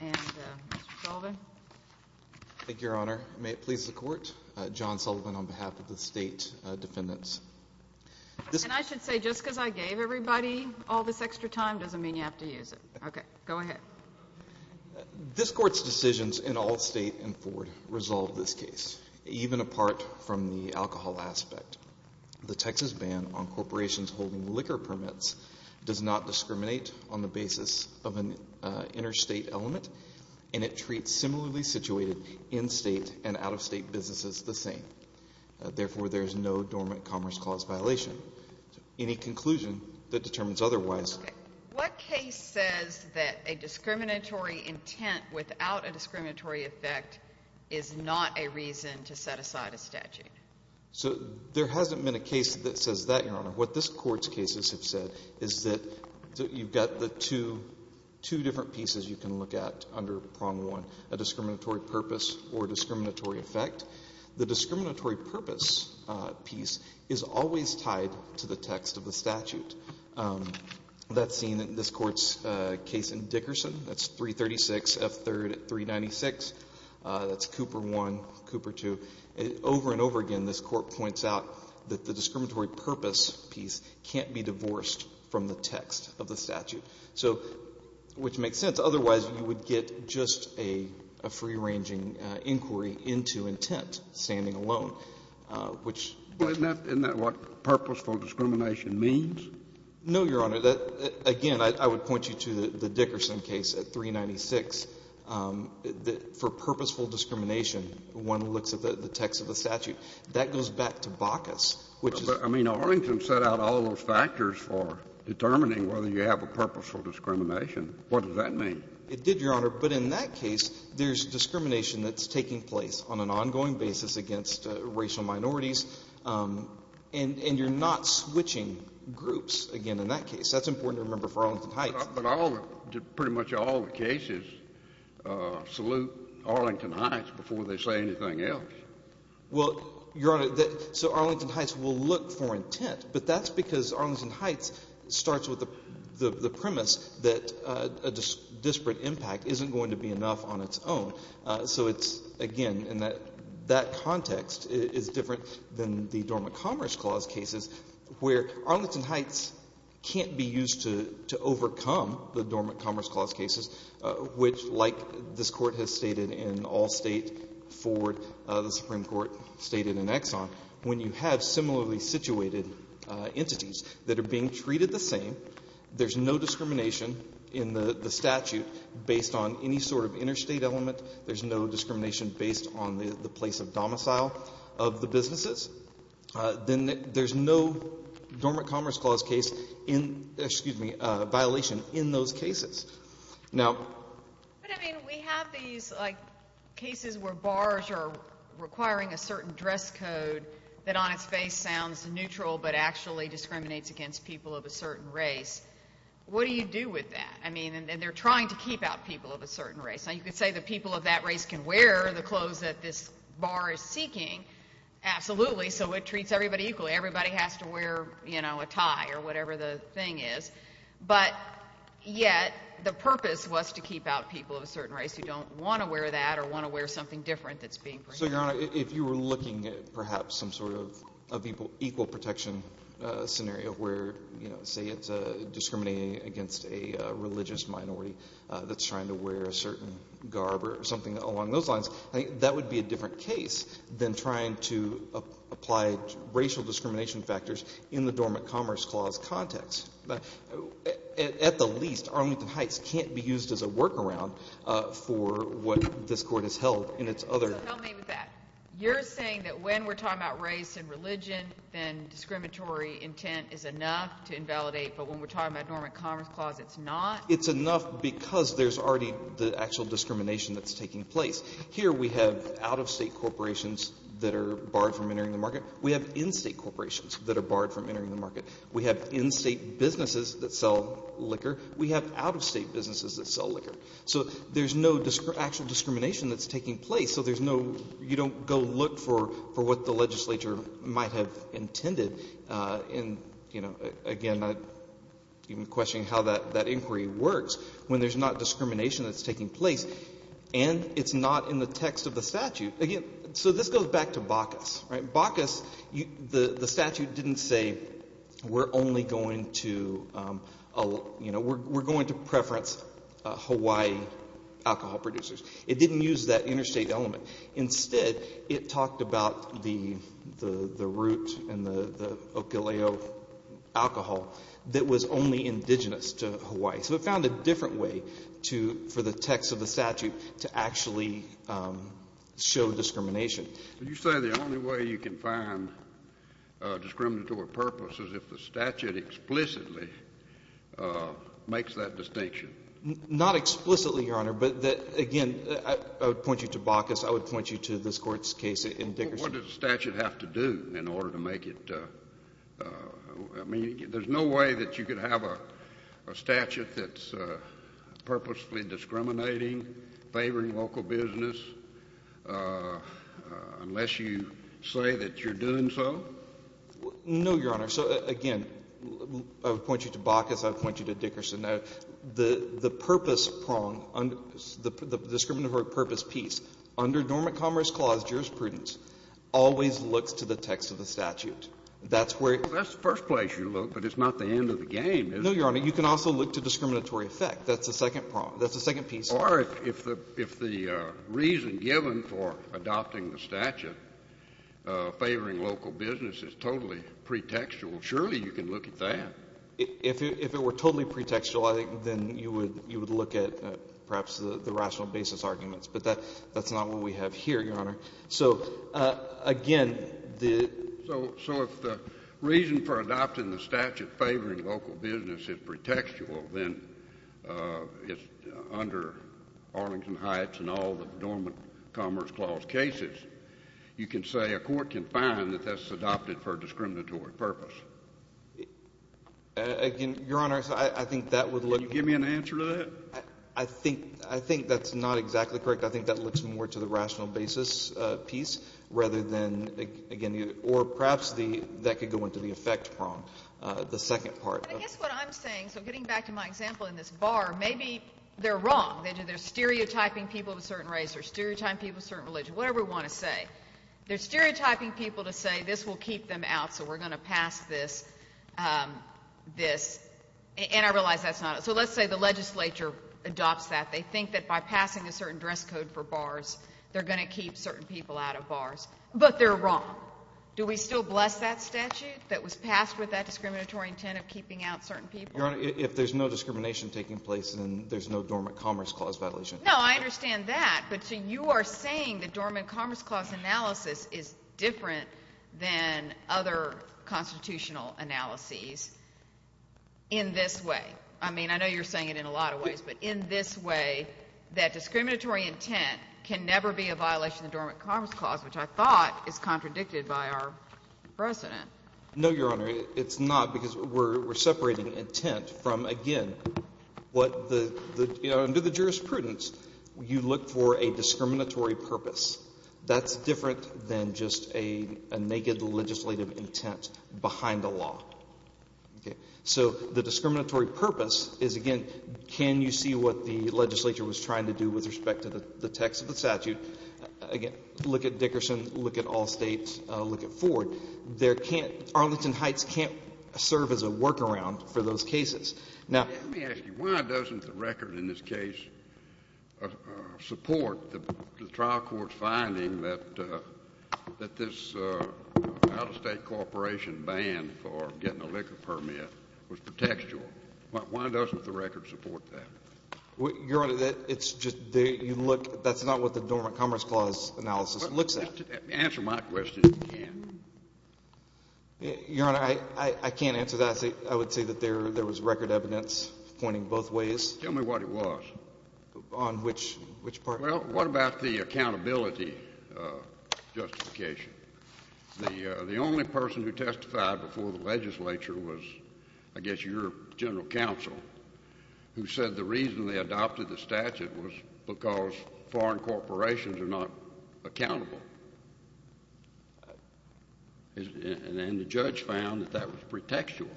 And Mr. Sullivan. Thank you, Your Honor. May it please the Court, John Sullivan on behalf of the State Defendants. And I should say, just because I gave everybody all this extra time doesn't mean you have to use it. Okay, go ahead. This Court's decisions in all State and Ford resolve this case, even apart from the alcohol aspect. The Texas ban on corporations holding liquor permits does not discriminate on the basis of an interstate element, and it treats similarly situated in-state and out-of-state businesses the same. Therefore, there is no dormant commerce clause violation. Any conclusion that determines otherwise Okay. What case says that a discriminatory intent without a discriminatory effect is not a reason to set aside a statute? So there hasn't been a case that says that, Your Honor. What this Court's cases have said is that you've got the two, two different pieces you can look at under Prong-1, a discriminatory purpose or discriminatory effect. The discriminatory purpose piece is always tied to the text of the statute. That's seen in this Court's case in Dickerson. That's 336 F. 3rd 396. That's Cooper 1, Cooper 2. Over and over again, this Court points out that the discriminatory purpose piece can't be divorced from the text of the statute. So, which makes sense. Otherwise, you would get just a free-ranging inquiry into intent standing alone, which Isn't that what purposeful discrimination means? No, Your Honor. Again, I would point you to the Dickerson case at 396. For purposeful discrimination, one looks at the text of the statute. That goes back to Bacchus, which is But, I mean, Arlington set out all those factors for determining whether you have a purposeful discrimination. What does that mean? It did, Your Honor. But in that case, there's discrimination that's taking place on an ongoing basis against racial minorities, and you're not switching groups again in that case. That's important to remember for Arlington Heights. But all the — pretty much all the cases salute Arlington Heights before they say anything else. Well, Your Honor, so Arlington Heights will look for intent, but that's because Arlington Heights starts with the premise that a disparate impact isn't going to be enough on its own. So it's, again, and that context is different than the Dormant Commerce Clause cases, where Arlington Heights can't be used to overcome the Dormant Commerce Clause cases, which, like this Court has stated in all State, Ford, the Supreme Court stated in Exxon, when you have similarly situated entities that are being treated the same, there's no discrimination in the statute based on any sort of interstate element, there's no discrimination based on the place of domicile of the businesses, then there's no Dormant Commerce Clause case in — excuse me — violation in those cases. Now — But, I mean, we have these, like, cases where bars are requiring a certain dress code that on its face sounds neutral but actually discriminates against people of a certain race. What do you do with that? I mean, and they're trying to keep out people of a certain race. Now, you could say the people of that race can wear the clothes that this bar is seeking, absolutely, so it treats everybody equally. Everybody has to wear, you know, a tie or But yet the purpose was to keep out people of a certain race who don't want to wear that or want to wear something different that's being — So, Your Honor, if you were looking at perhaps some sort of equal protection scenario where, you know, say it's discriminating against a religious minority that's trying to wear a certain garb or something along those lines, I think that would be a different case than trying to apply racial discrimination factors in the Dormant Commerce Clause context. But, at the least, Arlington Heights can't be used as a workaround for what this Court has held in its other — So help me with that. You're saying that when we're talking about race and religion, then discriminatory intent is enough to invalidate, but when we're talking about Dormant Commerce Clause, it's not? It's enough because there's already the actual discrimination that's taking place. Here we have out-of-state corporations that are barred from entering the market. We have in-state corporations that are barred from entering the market. We have in-state businesses that sell liquor. We have out-of-state businesses that sell liquor. So there's no actual discrimination that's taking place. So there's no — you don't go look for what the legislature might have intended in — you know, again, even questioning how that inquiry works when there's not discrimination that's taking place and it's not in the text of the statute. Again, so this goes back to Bacchus, right? Bacchus, the statute didn't say we're only going to — you know, we're going to preference Hawaii alcohol producers. It didn't use that interstate element. Instead, it talked about the root and the Okileo alcohol that was only indigenous to Hawaii. So it found a different way to — for the text of the statute to actually show discrimination. But you say the only way you can find discriminatory purpose is if the statute explicitly makes that distinction. Not explicitly, Your Honor, but again, I would point you to Bacchus. I would point you to this Court's case in Dickerson. Well, what does the statute have to do in order to make it — I mean, there's no way that you could have a statute that's purposefully discriminating, favoring local business, unless you say that you're doing so? No, Your Honor. So, again, I would point you to Bacchus. I would point you to Dickerson. The purpose prong, the discriminatory purpose piece, under Normant Commerce Clause jurisprudence, always looks to the text of the statute. That's where — No, Your Honor. You can also look to discriminatory effect. That's the second prong. That's the second piece. Or if the — if the reason given for adopting the statute favoring local business is totally pretextual, surely you can look at that. If it were totally pretextual, I think then you would — you would look at perhaps the rational basis arguments. But that's not what we have here, Your Honor. So, again, the — So if the reason for adopting the statute favoring local business is pretextual, then it's under Arlington Heights and all the Normant Commerce Clause cases, you can say a court can find that that's adopted for a discriminatory purpose. Again, Your Honor, I think that would look — Can you give me an answer to that? I think — I think that's not exactly correct. I think that looks more to the rational basis piece rather than, again, the — or perhaps the — that could go into the effect prong, the second part. But I guess what I'm saying — so getting back to my example in this bar, maybe they're wrong. They're stereotyping people of a certain race or stereotyping people of a certain religion, whatever we want to say. They're stereotyping people to say this will keep them out, so we're going to pass this — this. And I realize that's not — so let's say the legislature adopts that. They think that by passing a certain dress code for bars, they're going to keep certain people out of bars. But they're wrong. Do we still bless that statute that was passed with that discriminatory intent of keeping out certain people? Your Honor, if there's no discrimination taking place, then there's no Dormant Commerce Clause violation. No, I understand that. But so you are saying the Dormant Commerce Clause analysis is different than other constitutional analyses in this way. I mean, I know you're saying it in a lot of ways, but in this way, that discriminatory intent can never be a violation of the Dormant Commerce Clause, which I thought is contradicted by our precedent. No, Your Honor. It's not, because we're separating intent from, again, what the — under the jurisprudence, you look for a discriminatory purpose. That's different than just a naked legislative intent behind the law. Okay. So the discriminatory purpose is, again, can you see what the legislature was trying to do with respect to the text of the statute? Again, look at Dickerson, look at Allstate, look at Ford. There can't — Arlington Heights can't serve as a workaround for those cases. Now — Let me ask you, why doesn't the record in this case support the trial court's finding that this out-of-state corporation ban for getting a liquor permit was contextual? Why doesn't the record support that? Your Honor, it's just — you look — that's not what the Dormant Commerce Clause analysis looks at. Answer my question, if you can. Your Honor, I can't answer that. I would say that there was record evidence pointing both ways. Tell me what it was. On which part? Well, what about the accountability justification? The only person who testified before the legislature was, I guess, your general counsel, who said the reason they adopted the statute was because foreign corporations are not accountable. And the judge found that that was pretextual.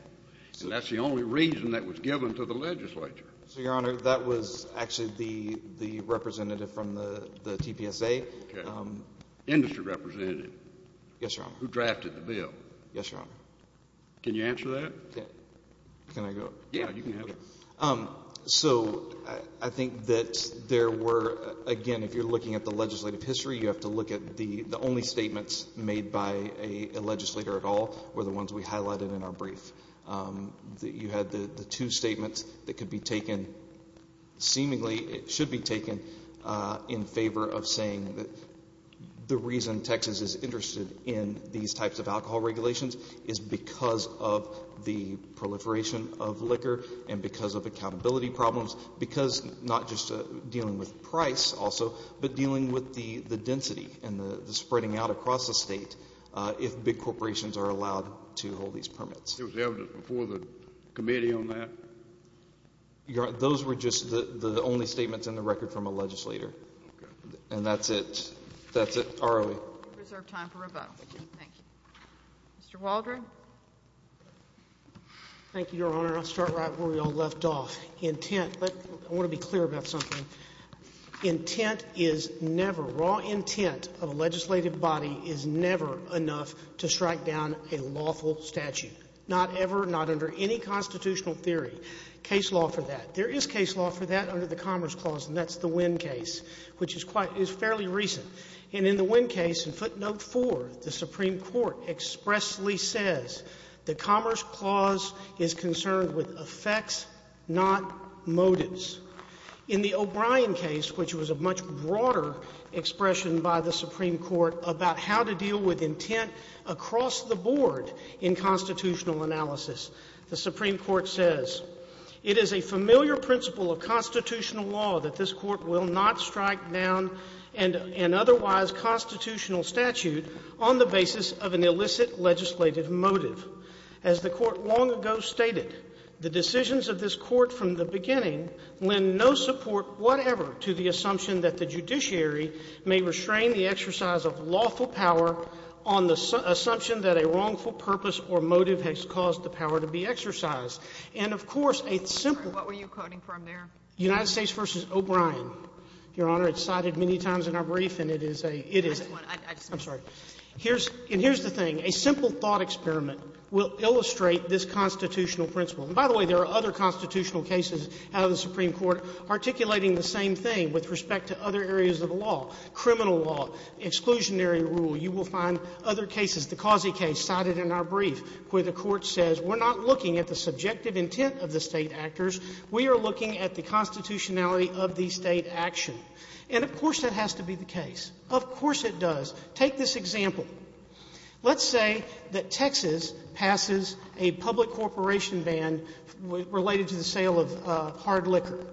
And that's the only reason that was given to the legislature. So, Your Honor, that was actually the representative from the TPSA. Okay. Industry representative. Yes, Your Honor. Who drafted the bill. Yes, Your Honor. Can you answer that? Can I go? Yeah, you can answer. So, I think that there were — again, if you're looking at the legislative history, you have to look at the only statements made by a legislator at all were the ones we highlighted in our brief. You had the two statements that could be taken — seemingly should be taken in favor of saying that the reason Texas is interested in these types of alcohol regulations is because of the proliferation of liquor and because of accountability problems, because not just dealing with price also, but dealing with the density and the spreading out across the state, if big corporations are allowed to hold these permits. There was evidence before the committee on that? Those were just the only statements in the record from a legislator. And that's it. That's it. Are we — We reserve time for rebuttal. Thank you. Mr. Waldron? Thank you, Your Honor. I'll start right where we all left off. Intent — I want to be clear about something. Intent is never — raw intent of a legislative body is never enough to strike down a lawful statute. Not ever, not under any constitutional theory. Case law for that. There is case law for that under the Commerce Clause, and that's the Winn case, which is quite — is fairly recent. And in the Winn case, in footnote 4, the Supreme Court expressly says the Commerce Clause is concerned with effects, not motives. In the O'Brien case, which was a much broader expression by the Supreme Court about how to deal with intent across the board in constitutional analysis, the Supreme Court says, it is a familiar principle of constitutional law that this Court will not strike down an otherwise constitutional statute on the basis of an illicit legislative motive. As the Court long ago stated, the decisions of this Court from the beginning lend no support whatever to the assumption that the judiciary may restrain the exercise of lawful power on the assumption that a wrongful purpose or motive has caused the power to be exercised. And, of course, a simple — What were you quoting from there? United States v. O'Brien, Your Honor. It's cited many times in our brief, and it is a — it is — I just want — I just — I'm sorry. Here's — and here's the thing. A simple thought experiment will illustrate this constitutional principle. And, by the way, there are other constitutional cases out of the Supreme Court articulating the same thing with respect to other areas of the law, criminal law, exclusionary rule. You will find other cases. The Causey case cited in our brief, where the Court says we're not looking at the subjective intent of the State actors. We are looking at the constitutionality of the State action. And, of course, that has to be the case. Of course it does. Take this example. Let's say that Texas passes a public corporation ban related to the sale of hard liquor,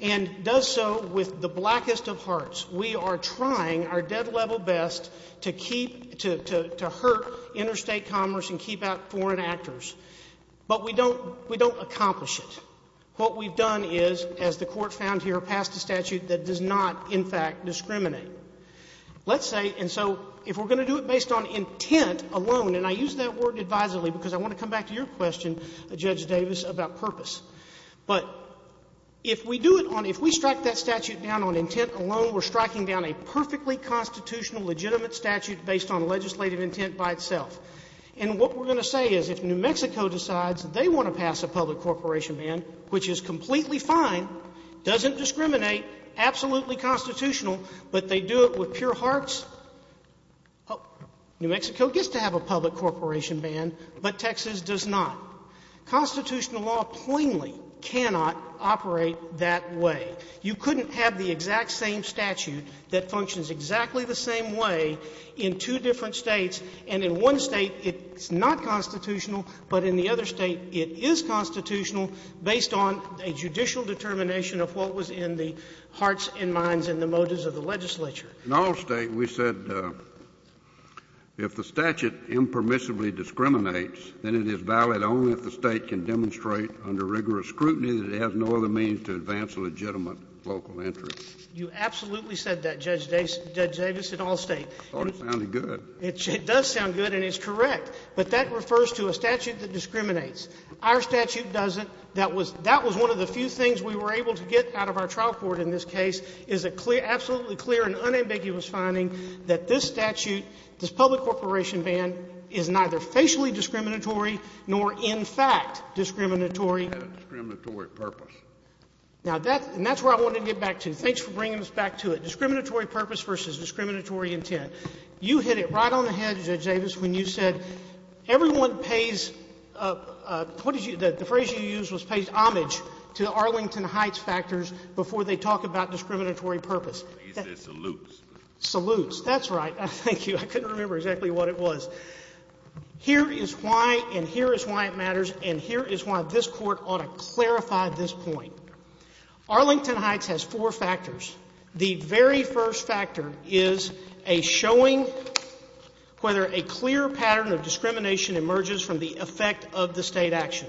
and does so with the blackest of hearts. We are trying our dead-level best to keep — to hurt interstate commerce and keep out foreign actors, but we don't — we don't accomplish it. What we've done is, as the Court found here, passed a statute that does not, in fact, discriminate. Let's say — and so if we're going to do it based on intent alone, and I use that word advisably because I want to come back to your question, Judge Davis, about purpose. But if we do it on — if we strike that statute down on intent alone, we're striking down a perfectly constitutional, legitimate statute based on legislative intent by itself. And what we're going to say is, if New Mexico decides they want to pass a public corporation ban, which is completely fine, doesn't discriminate, absolutely constitutional, but they do it with pure hearts, New Mexico gets to have a public corporation ban, but Texas does not. Constitutional law plainly cannot operate that way. You couldn't have the exact same statute that functions exactly the same way in two different States, and in one State it's not constitutional, but in the other State it is constitutional based on a judicial determination of what was in the hearts and minds and the motives of the legislature. In all States, we said if the statute impermissibly discriminates, then it is valid only if the State can demonstrate under rigorous scrutiny that it has no other means to advance legitimate local interests. You absolutely said that, Judge Davis, in all States. I thought it sounded good. It does sound good, and it's correct. But that refers to a statute that discriminates. Our statute doesn't. That was one of the few things we were able to get out of our trial court in this case, is a clear, absolutely clear and unambiguous finding that this statute, this public corporation ban, is neither facially discriminatory nor, in fact, discriminatory. It had a discriminatory purpose. Now, that's where I wanted to get back to. Thanks for bringing us back to it. Discriminatory purpose versus discriminatory intent. You hit it right on the head, Judge Davis, when you said everyone pays a — what phrase you used was paid homage to Arlington Heights factors before they talk about discriminatory purpose. He said salutes. Salutes. That's right. Thank you. I couldn't remember exactly what it was. Here is why, and here is why it matters, and here is why this Court ought to clarify this point. Arlington Heights has four factors. The very first factor is a showing whether a clear pattern of discrimination emerges from the effect of the State action.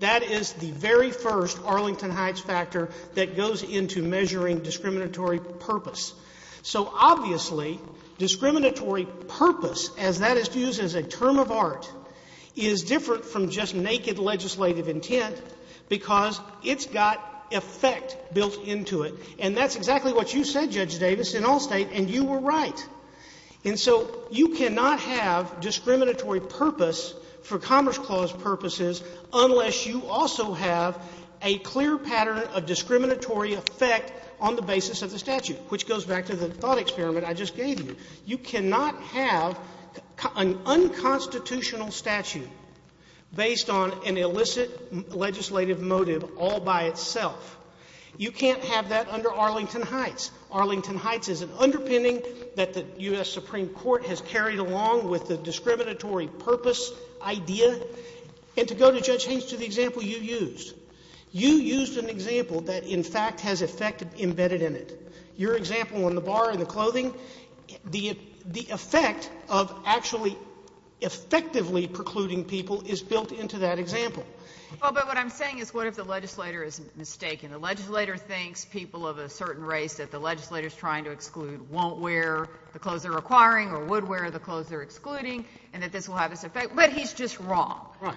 That is the very first Arlington Heights factor that goes into measuring discriminatory purpose. So obviously, discriminatory purpose, as that is used as a term of art, is different from just naked legislative intent because it's got effect built into it. And that's exactly what you said, Judge Davis, in Allstate, and you were right. And so you cannot have discriminatory purpose for Commerce Clause purposes unless you also have a clear pattern of discriminatory effect on the basis of the statute, which goes back to the thought experiment I just gave you. You cannot have an unconstitutional statute based on an illicit legislative motive all by itself. You can't have that under Arlington Heights. Arlington Heights is an underpinning that the U.S. Supreme Court has carried along with the discriminatory purpose idea. And to go to Judge Haines to the example you used, you used an example that, in fact, has effect embedded in it. Your example on the bar and the clothing, the effect of actually effectively precluding people is built into that example. Well, but what I'm saying is what if the legislator is mistaken? The legislator thinks people of a certain race that the legislator is trying to exclude won't wear the clothes they're acquiring or would wear the clothes they're excluding, and that this will have this effect, but he's just wrong. Right.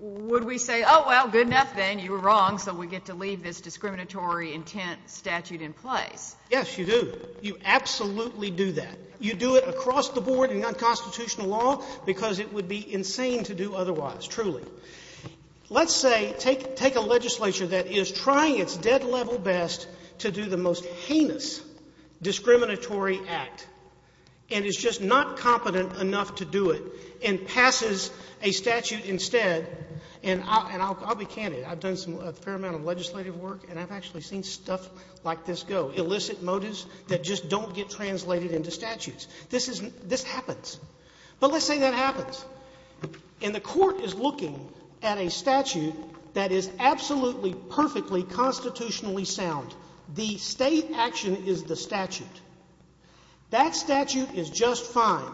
Would we say, oh, well, good enough, then. You were wrong, so we get to leave this discriminatory intent statute in place. Yes, you do. You absolutely do that. You do it across the board in unconstitutional law, because it would be insane to do otherwise, truly. Let's say, take a legislature that is trying its dead-level best to do the most heinous discriminatory act, and is just not competent enough to do it, and passes a statute instead. And I'll be candid. I've done a fair amount of legislative work, and I've actually seen stuff like this go, illicit motives that just don't get translated into statutes. This happens. But let's say that happens. And the court is looking at a statute that is absolutely, perfectly constitutionally sound. The State action is the statute. That statute is just fine.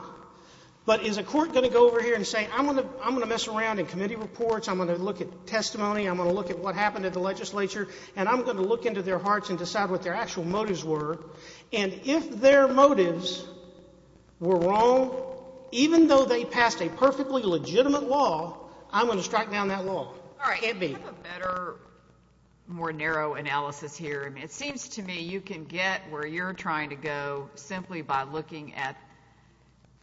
But is a court going to go over here and say, I'm going to mess around in committee reports, I'm going to look at testimony, I'm going to look at what happened at the legislature, and I'm going to look into their hearts and decide what their actual motives were? And if their motives were wrong, even though they passed a perfectly legitimate law, I'm going to strike down that law. All right. Edbie. I have a better, more narrow analysis here. It seems to me you can get where you're trying to go simply by looking at,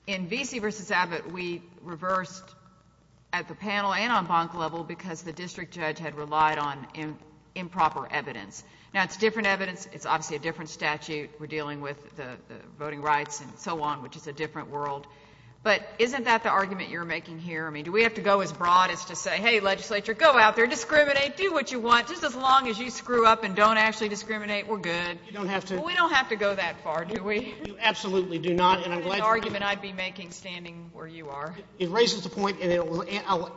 in Vesey v. Abbott, we reversed at the panel and on bonk level, because the district judge had relied on improper evidence. Now, it's different evidence. It's obviously a different statute. We're dealing with the voting rights and so on, which is a different world. But isn't that the argument you're making here? I mean, do we have to go as broad as to say, hey, legislature, go out there, discriminate, do what you want, just as long as you screw up and don't actually discriminate, we're good. You don't have to. Well, we don't have to go that far, do we? Absolutely do not. And I'm glad you're— That's the argument I'd be making standing where you are. It raises the point, and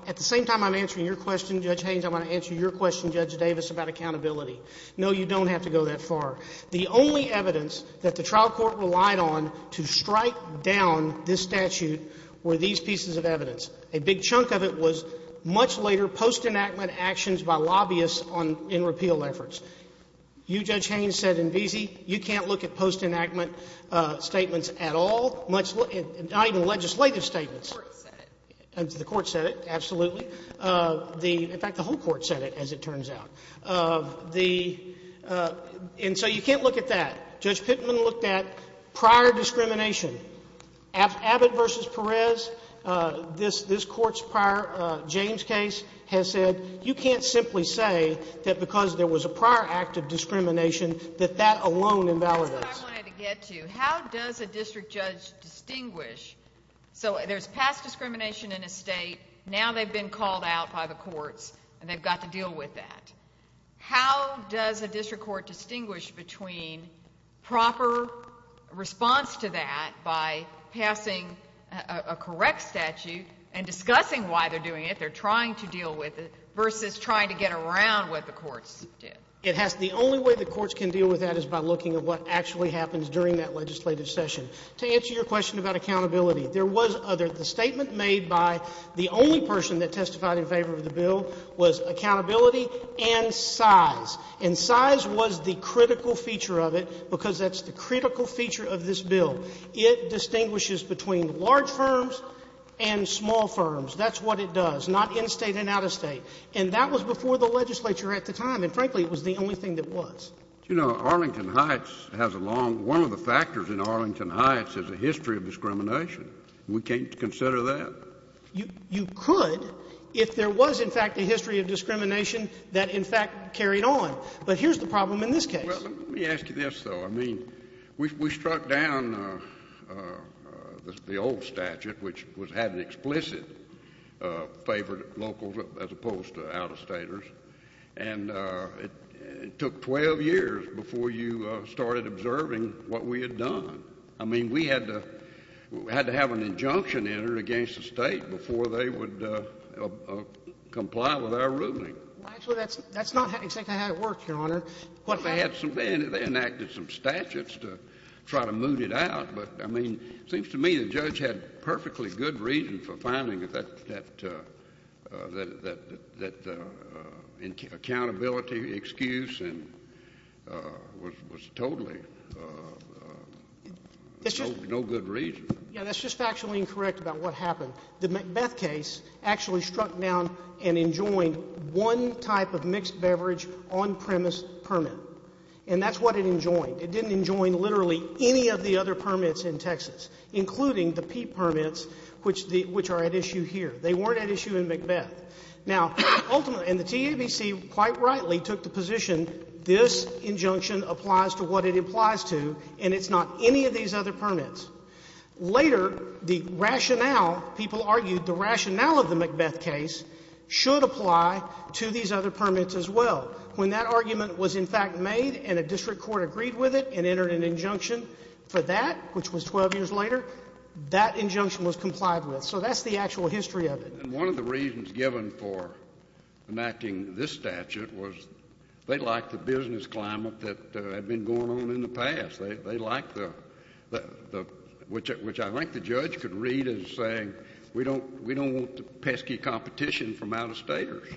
at the same time I'm answering your question, Judge Haynes, I'm going to answer your question, Judge Davis, about accountability. No, you don't have to go that far. The only evidence that the trial court relied on to strike down this statute were these pieces of evidence. A big chunk of it was much later post-enactment actions by lobbyists in repeal efforts. You, Judge Haynes, said in Veazey, you can't look at post-enactment statements at all, not even legislative statements. The court said it. The court said it, absolutely. In fact, the whole court said it, as it turns out. The—and so you can't look at that. Judge Pittman looked at prior discrimination. Abbott v. Perez, this court's prior James case, has said you can't simply say that because there was a prior act of discrimination that that alone invalidates. That's what I wanted to get to. How does a district judge distinguish—so there's past discrimination in a state, now they've been called out by the courts and they've got to deal with that. How does a district court distinguish between proper response to that by passing a correct statute and discussing why they're doing it, they're trying to deal with it, versus trying to get around what the courts did? It has—the only way the courts can deal with that is by looking at what actually happens during that legislative session. To answer your question about accountability, there was other—the statement made by the only person that testified in favor of the bill was accountability and size. And size was the critical feature of it because that's the critical feature of this bill. It distinguishes between large firms and small firms. That's what it does, not in-state and out-of-state. And that was before the legislature at the time. And frankly, it was the only thing that was. You know, Arlington Heights has a long—one of the factors in Arlington Heights is a history of discrimination. We can't consider that? You could if there was, in fact, a history of discrimination that, in fact, carried on. But here's the problem in this case. Well, let me ask you this, though. I mean, we struck down the old statute, which was—had an explicit favor to locals as opposed to out-of-staters. And it took 12 years before you started observing what we had done. I mean, we had to have an injunction entered against the state before they would comply with our ruling. Well, actually, that's not exactly how it worked, Your Honor. They enacted some statutes to try to move it out. But, I mean, it seems to me the judge had perfectly good reason for finding that accountability excuse and was totally—no good reason. Yeah, that's just factually incorrect about what happened. The Macbeth case actually struck down and enjoined one type of mixed beverage on-premise permit, and that's what it enjoined. It didn't enjoin literally any of the other permits in Texas, including the peat permits, which are at issue here. They weren't at issue in Macbeth. Now, ultimately, and the TABC quite rightly took the position this injunction applies to what it implies to, and it's not any of these other permits. Later, the rationale, people argued the rationale of the Macbeth case should apply to these other permits as well. When that argument was, in fact, made and a district court agreed with it and entered an injunction for that, which was 12 years later, that injunction was complied with. So that's the actual history of it. One of the reasons given for enacting this statute was they liked the business climate that had been going on in the past. They liked the—which I think the judge could read as saying, we don't want pesky competition from out-of-staters.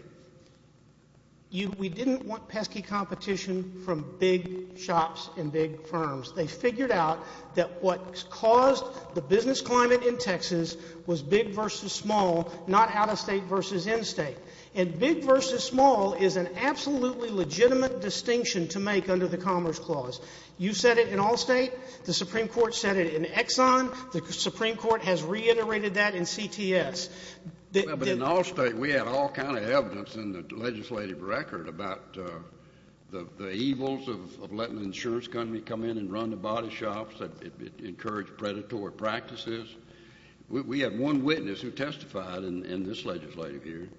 We didn't want pesky competition from big shops and big firms. They figured out that what caused the business climate in Texas was big versus small, not out-of-state versus in-state. And big versus small is an absolutely legitimate distinction to make under the Commerce Clause. You said it in Allstate. The Supreme Court said it in Exxon. The Supreme Court has reiterated that in CTS. The— Well, but in Allstate, we had all kind of evidence in the legislative record about the evils of letting the insurance company come in and run the body shops. It encouraged predatory practices. We have one witness who testified in this legislative year.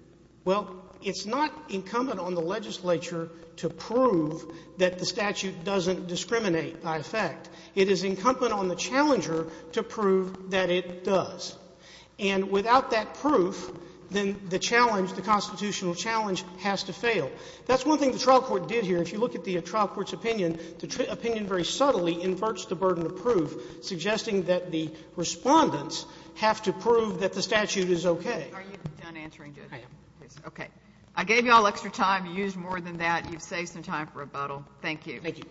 Well, it's not incumbent on the legislature to prove that the statute doesn't discriminate by effect. It is incumbent on the challenger to prove that it does. And without that proof, then the challenge, the constitutional challenge has to fail. That's one thing the trial court did here. If you look at the trial court's opinion, the opinion very subtly inverts the burden of proof, suggesting that the Respondents have to prove that the statute is okay. Are you done answering, Judge? I am. Okay. I gave you all extra time. You used more than that. You've saved some time for rebuttal. Thank you. Thank you.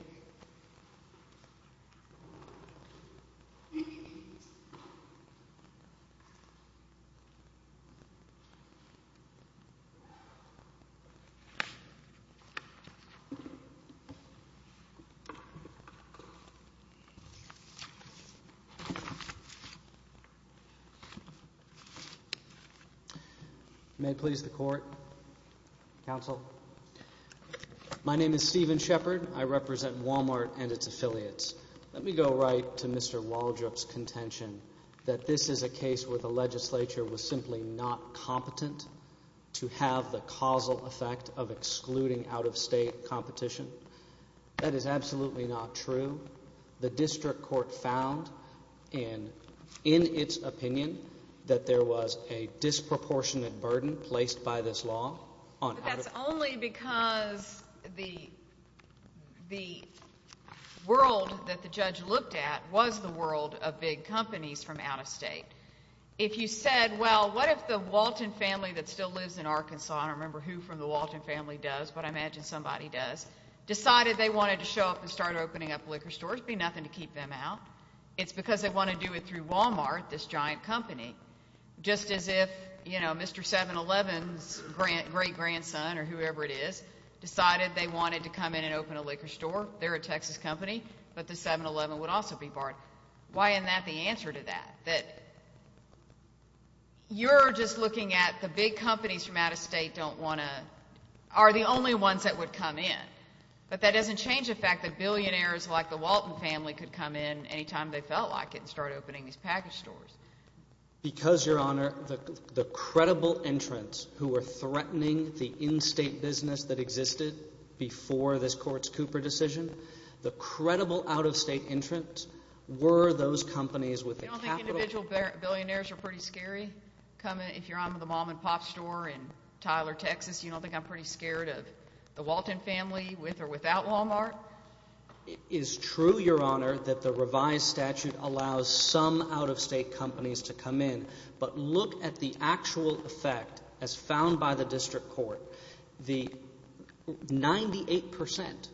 May it please the court. Counsel. My name is Stephen Shepard. I represent Walmart and its affiliates. Let me go right to Mr. Waldrop's contention that this is a case where the legislature was simply not competent to have the causal effect of excluding out-of-state competition. That is absolutely not true. The district court found in its opinion that there was a disproportionate burden placed by this law on out-of-state competition. But that's only because the world that the judge looked at was the world of big companies from out-of-state. If you said, well, what if the Walton family that still lives in Arkansas, I don't remember who from the Walton family does, but I imagine somebody does, decided they wanted to show up and open up a liquor store, it would be nothing to keep them out. It's because they want to do it through Walmart, this giant company. Just as if, you know, Mr. 7-Eleven's great-grandson or whoever it is, decided they wanted to come in and open a liquor store, they're a Texas company, but the 7-Eleven would also be barred. Why isn't that the answer to that? You're just looking at the big companies from out-of-state don't want to, are the only ones that would come in. But that doesn't change the fact that billionaires like the Walton family could come in any time they felt like it and start opening these package stores. Because, Your Honor, the credible entrants who were threatening the in-state business that existed before this Court's Cooper decision, the credible out-of-state entrants were those companies with the capital. You don't think individual billionaires are pretty scary? If you're on the mom-and-pop store in Tyler, Texas, you don't think I'm pretty scared of the Walton family with or without Walmart? It is true, Your Honor, that the revised statute allows some out-of-state companies to come in, but look at the actual effect as found by the District Court. The 98 percent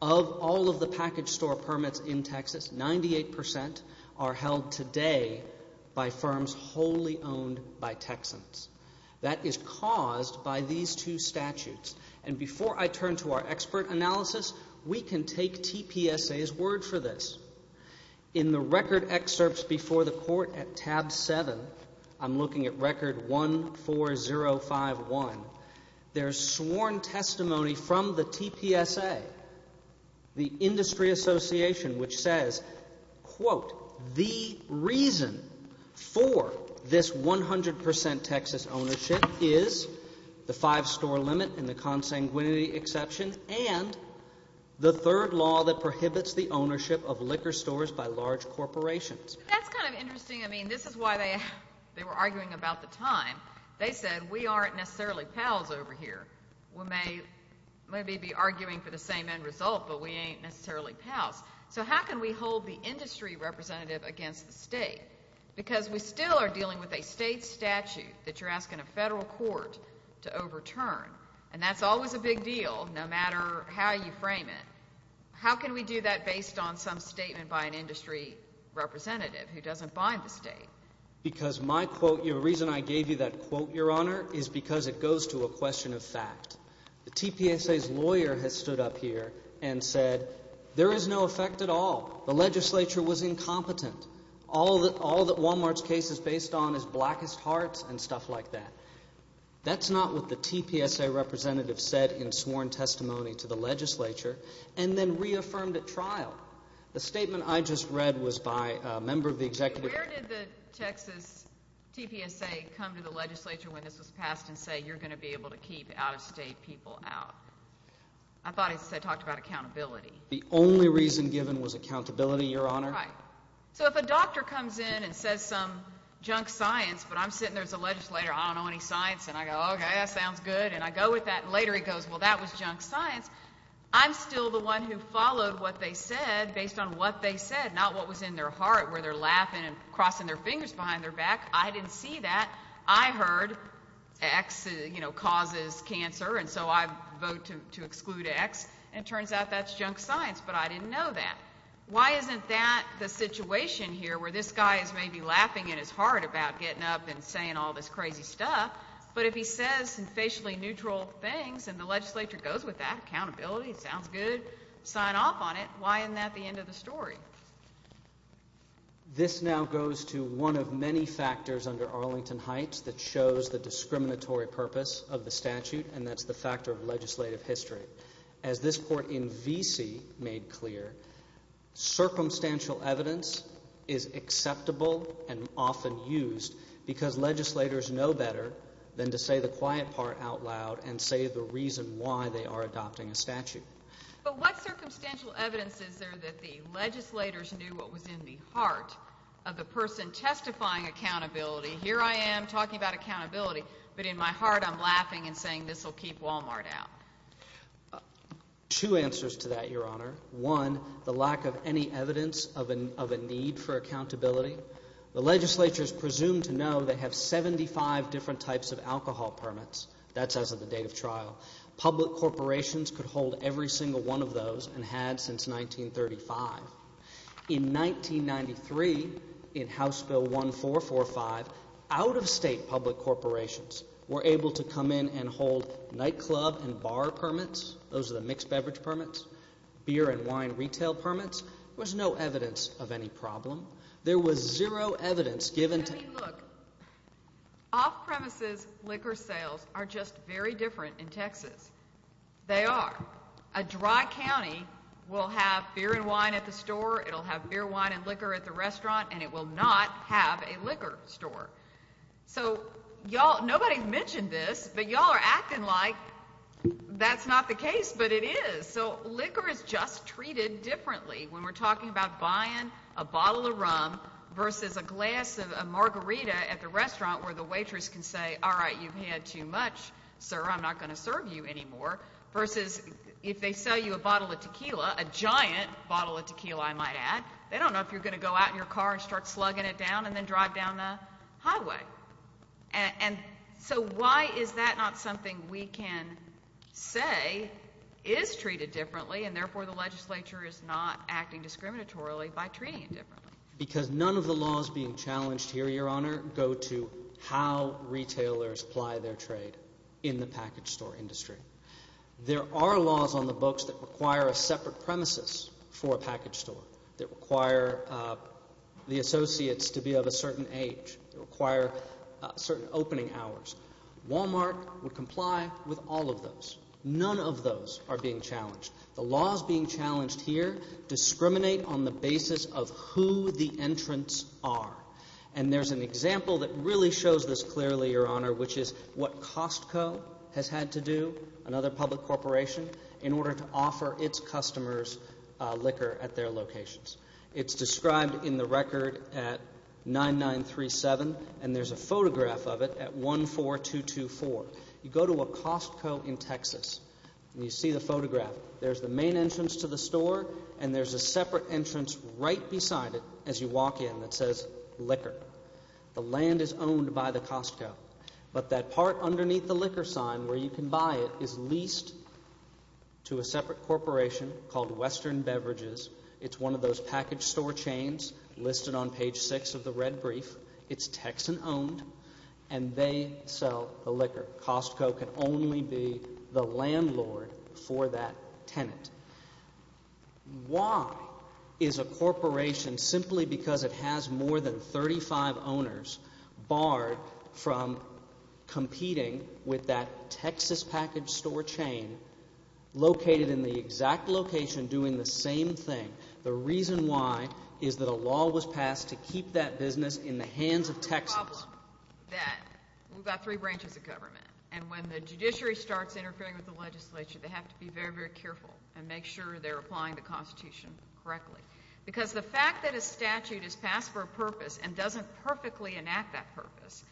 of all of the package store permits in Texas, 98 percent are held today by firms wholly owned by Texans. That is caused by these two statutes. And before I turn to our expert analysis, we can take TPSA's word for this. In the record excerpts before the Court at tab 7, I'm looking at record 14051, there's sworn testimony from the TPSA, the Industry Association, which says, quote, the reason for this 100 percent Texas ownership is the five-store limit and the consanguinity exception and the third law that prohibits the ownership of liquor stores by large corporations. That's kind of interesting. I mean, this is why they were arguing about the time. They said, we aren't necessarily pals over here. We may be arguing for the same end result, but we ain't necessarily pals. So how can we hold the industry representative against the state? Because we still are dealing with a state statute that you're asking a federal court to overturn, and that's always a big deal, no matter how you frame it. How can we do that based on some statement by an industry representative who doesn't bind the state? Because my quote, the reason I gave you that quote, Your Honor, is because it goes to a question of fact. The TPSA's lawyer has stood up here and said, there is no effect at all. The legislature was incompetent. All that Wal-Mart's case is based on is blackest hearts and stuff like that. That's not what the TPSA representative said in sworn testimony to the legislature and then reaffirmed at trial. The statement I just read was by a member of the executive. Where did the Texas TPSA come to the legislature when this was passed and say, you're going to be able to keep out-of-state people out? I thought it said, talked about accountability. The only reason given was accountability, Your Honor. Right. So if a doctor comes in and says some junk science, but I'm sitting there as a legislator, I don't know any science, and I go, okay, that sounds good, and I go with that, and later he goes, well, that was junk science, I'm still the one who followed what they said based on what they said, not what was in their heart where they're laughing and crossing their fingers behind their back. I didn't see that. I heard X, you know, causes cancer, and so I vote to exclude X, and it turns out that's junk science, but I didn't know that. Why isn't that the situation here where this guy is maybe laughing in his heart about getting up and saying all this crazy stuff, but if he says some facially neutral things and the legislature goes with that, accountability, sounds good, sign off on it, why isn't that the end of the story? This now goes to one of many factors under Arlington Heights that shows the discriminatory purpose of the statute, and that's the factor of legislative history. As this court in V.C. made clear, circumstantial evidence is acceptable and often used because legislators know better than to say the quiet part out loud and say the reason why they are adopting a statute. But what circumstantial evidence is there that the legislators knew what was in the heart of the person testifying accountability? Here I am talking about accountability, but in my heart I'm laughing and saying this will keep Walmart out. Two answers to that, Your Honor. One, the lack of any evidence of a need for accountability. The legislature is presumed to know they have 75 different types of alcohol permits. That's as of the date of trial. Public corporations could hold every single one of those and had since 1935. In 1993, in House Bill 1445, out-of-state public corporations were able to come in and hold nightclub and bar permits, those are the mixed beverage permits, beer and wine retail permits. There was no evidence of any problem. There was zero evidence given to... I mean, look, off-premises liquor sales are just very different in Texas. They are. A dry county will have beer and wine at the store, it will have beer, wine, and liquor at the restaurant, and it will not have a liquor store. So nobody mentioned this, but y'all are acting like that's not the case, but it is. So liquor is just treated differently when we're talking about buying a bottle of rum versus a glass of margarita at the restaurant where the waitress can say, all right, you've had too much, sir, I'm not going to serve you anymore, versus if they sell you a bottle of tequila, a giant bottle of tequila, I might add, they don't know if you're going to go out in your car and start slugging it down and then drive down the highway. And so why is that not something we can say is treated differently and therefore the legislature is not acting discriminatorily by treating it differently? Because none of the laws being challenged here, Your Honor, go to how retailers apply their trade in the package store industry. There are laws on the books that require a separate premises for a package store, that require the associates to be of a certain age, that require certain opening hours. Walmart would comply with all of those. None of those are being challenged. The laws being challenged here discriminate on the basis of who the entrants are. And there's an example that really shows this clearly, Your Honor, which is what Costco has had to do, another public corporation, in order to offer its customers liquor at their locations. It's described in the record at 9937, and there's a photograph of it at 14224. You go to a Costco in Texas, and you see the photograph. There's the main entrance to the store, and there's a separate entrance right beside it as you walk in that says liquor. The land is owned by the Costco. But that part underneath the liquor sign where you can buy it is leased to a separate corporation called Western Beverages. It's one of those package store chains listed on page 6 of the red brief. It's Texan-owned, and they sell the liquor. Costco can only be the landlord for that tenant. Why is a corporation, simply because it has more than 35 owners, barred from competing with that Texas package store chain located in the exact location doing the same thing? The reason why is that a law was passed to keep that business in the hands of Texas. The problem with that, we've got three branches of government, and when the judiciary starts interfering with the legislature, they have to be very, very careful and make sure they're applying the Constitution correctly. Because the fact that a statute is passed for a purpose and doesn't perfectly enact that purpose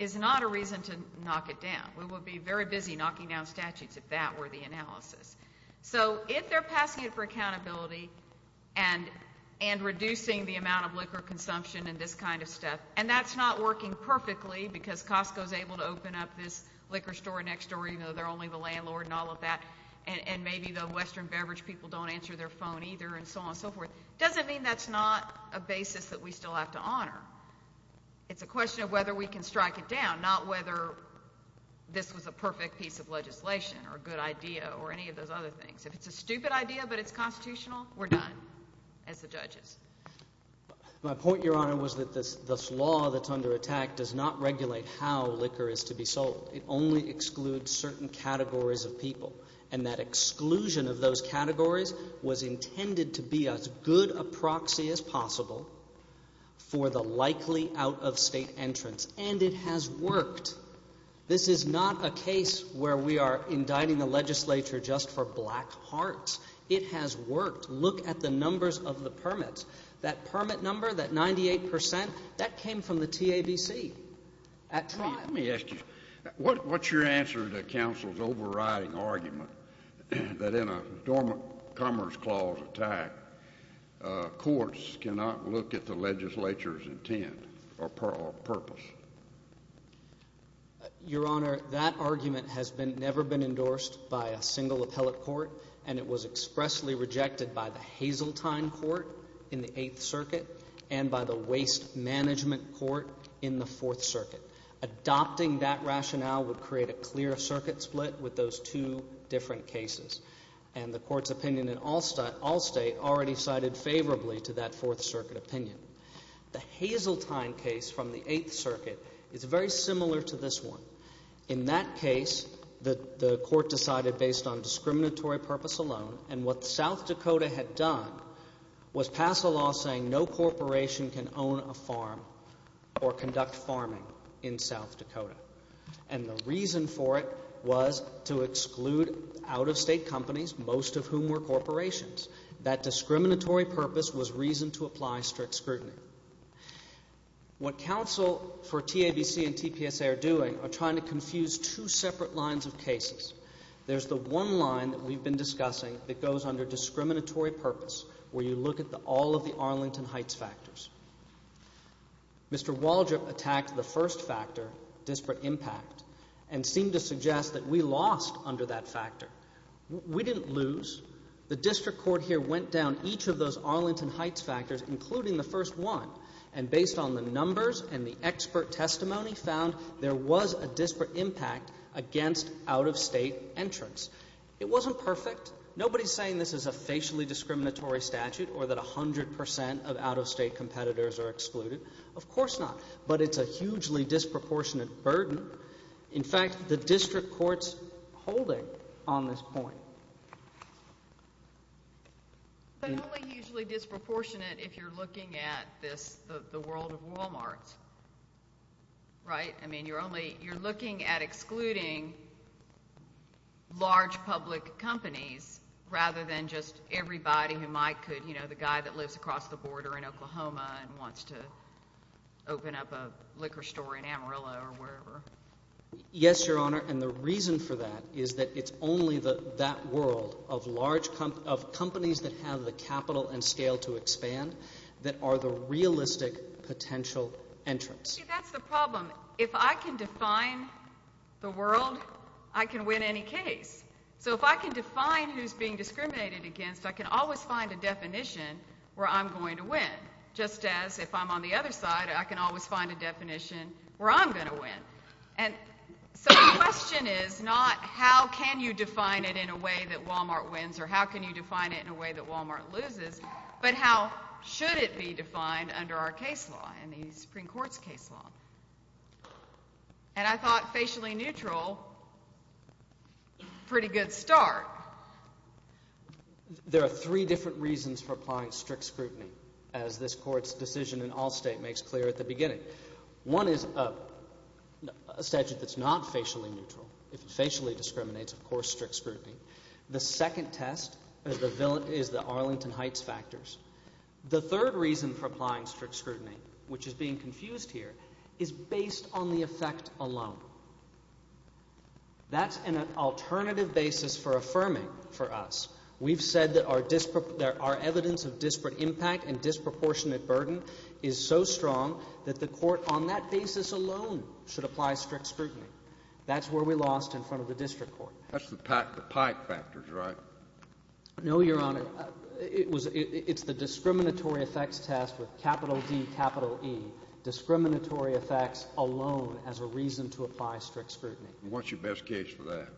is not a reason to knock it down. We would be very busy knocking down statutes if that were the analysis. So if they're passing it for accountability and reducing the amount of liquor consumption and this kind of stuff, and that's not working perfectly because Costco is able to open up this liquor store next door, even though they're only the landlord and all of that, and maybe the Western Beverage people don't answer their phone either and so on and so forth, it doesn't mean that's not a basis that we still have to honor. It's a question of whether we can strike it down, not whether this was a perfect piece of legislation or a good idea or any of those other things. If it's a stupid idea but it's constitutional, we're done as the judges. My point, Your Honor, was that this law that's under attack does not regulate how liquor is to be sold. It only excludes certain categories of people, and that exclusion of those categories was intended to be as good a proxy as possible for the likely out-of-state entrance, and it has worked. This is not a case where we are indicting the legislature just for black hearts. It has worked. Look at the numbers of the permits. That permit number, that 98 percent, that came from the TABC at trial. Let me ask you, what's your answer to counsel's overriding argument that in a dormant Commerce Clause attack, courts cannot look at the legislature's intent or purpose? Your Honor, that argument has never been endorsed by a single appellate court, and it was expressly rejected by the Hazeltine Court in the Eighth Circuit and by the Waste Management Court in the Fourth Circuit. Adopting that rationale would create a clear circuit split with those two different cases, and the Court's opinion in Allstate already sided favorably to that Fourth Circuit opinion. The Hazeltine case from the Eighth Circuit is very similar to this one. In that case, the Court decided based on discriminatory purpose alone, and what South Dakota had done was pass a law saying no corporation can own a farm or conduct farming in South Dakota. And the reason for it was to exclude out-of-state companies, most of whom were corporations. That discriminatory purpose was reason to apply strict scrutiny. What counsel for TABC and TPSA are doing are trying to confuse two separate lines of cases. There's the one line that we've been discussing that goes under discriminatory purpose, where you look at all of the Arlington Heights factors. Mr. Waldrop attacked the first factor, disparate impact, and seemed to suggest that we lost under that factor. We didn't lose. The district court here went down each of those Arlington Heights factors, including the first one, and based on the numbers and the expert testimony, found there was a disparate impact against out-of-state entrants. It wasn't perfect. Nobody's saying this is a facially discriminatory statute or that 100% of out-of-state competitors are excluded. Of course not, but it's a hugely disproportionate burden. In fact, the district court's holding on this point. But only hugely disproportionate if you're looking at the world of Walmarts, right? I mean, you're looking at excluding large public companies rather than just everybody who might could, you know, the guy that lives across the border in Oklahoma and wants to open up a liquor store in Amarillo or wherever. Yes, Your Honor, and the reason for that is that it's only that world of large companies that have the capital and scale to expand that are the realistic potential entrants. See, that's the problem. If I can define the world, I can win any case. So if I can define who's being discriminated against, I can always find a definition where I'm going to win, just as if I'm on the other side, I can always find a definition where I'm going to win. And so the question is not how can you define it in a way that Walmart wins or how can you define it in a way that Walmart loses, but how should it be defined under our case law, in the Supreme Court's case law. And I thought facially neutral, pretty good start. There are three different reasons for applying strict scrutiny, as this Court's decision in all state makes clear at the beginning. One is a statute that's not facially neutral. If it facially discriminates, of course strict scrutiny. The second test is the Arlington Heights factors. The third reason for applying strict scrutiny, which is being confused here, is based on the effect alone. That's an alternative basis for affirming for us. We've said that our evidence of disparate impact and disproportionate burden is so strong that the Court on that basis alone should apply strict scrutiny. That's where we lost in front of the district court. That's the Pike factors, right? No, Your Honor. It's the discriminatory effects test with capital D, capital E, discriminatory effects alone as a reason to apply strict scrutiny. And what's your best case for that?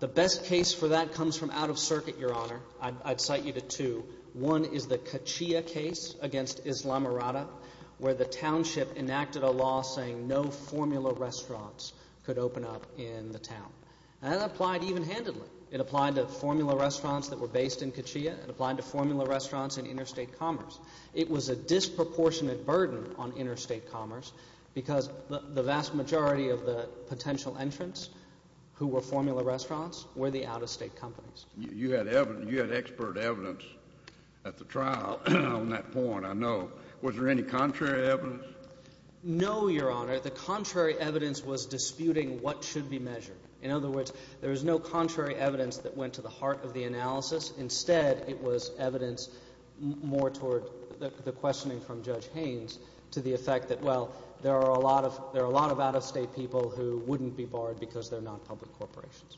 The best case for that comes from out of circuit, Your Honor. I'd cite you to two. One is the Kachia case against Islamorada, where the township enacted a law saying no formula restaurants could open up in the town. And that applied even-handedly. It applied to formula restaurants that were based in Kachia. It applied to formula restaurants in interstate commerce. It was a disproportionate burden on interstate commerce because the vast majority of the potential entrants who were formula restaurants were the out-of-state companies. You had expert evidence at the trial on that point, I know. Was there any contrary evidence? No, Your Honor. The contrary evidence was disputing what should be measured. In other words, there was no contrary evidence that went to the heart of the analysis. Instead, it was evidence more toward the questioning from Judge Haynes to the effect that, well, there are a lot of out-of-state people who wouldn't be barred because they're not public corporations.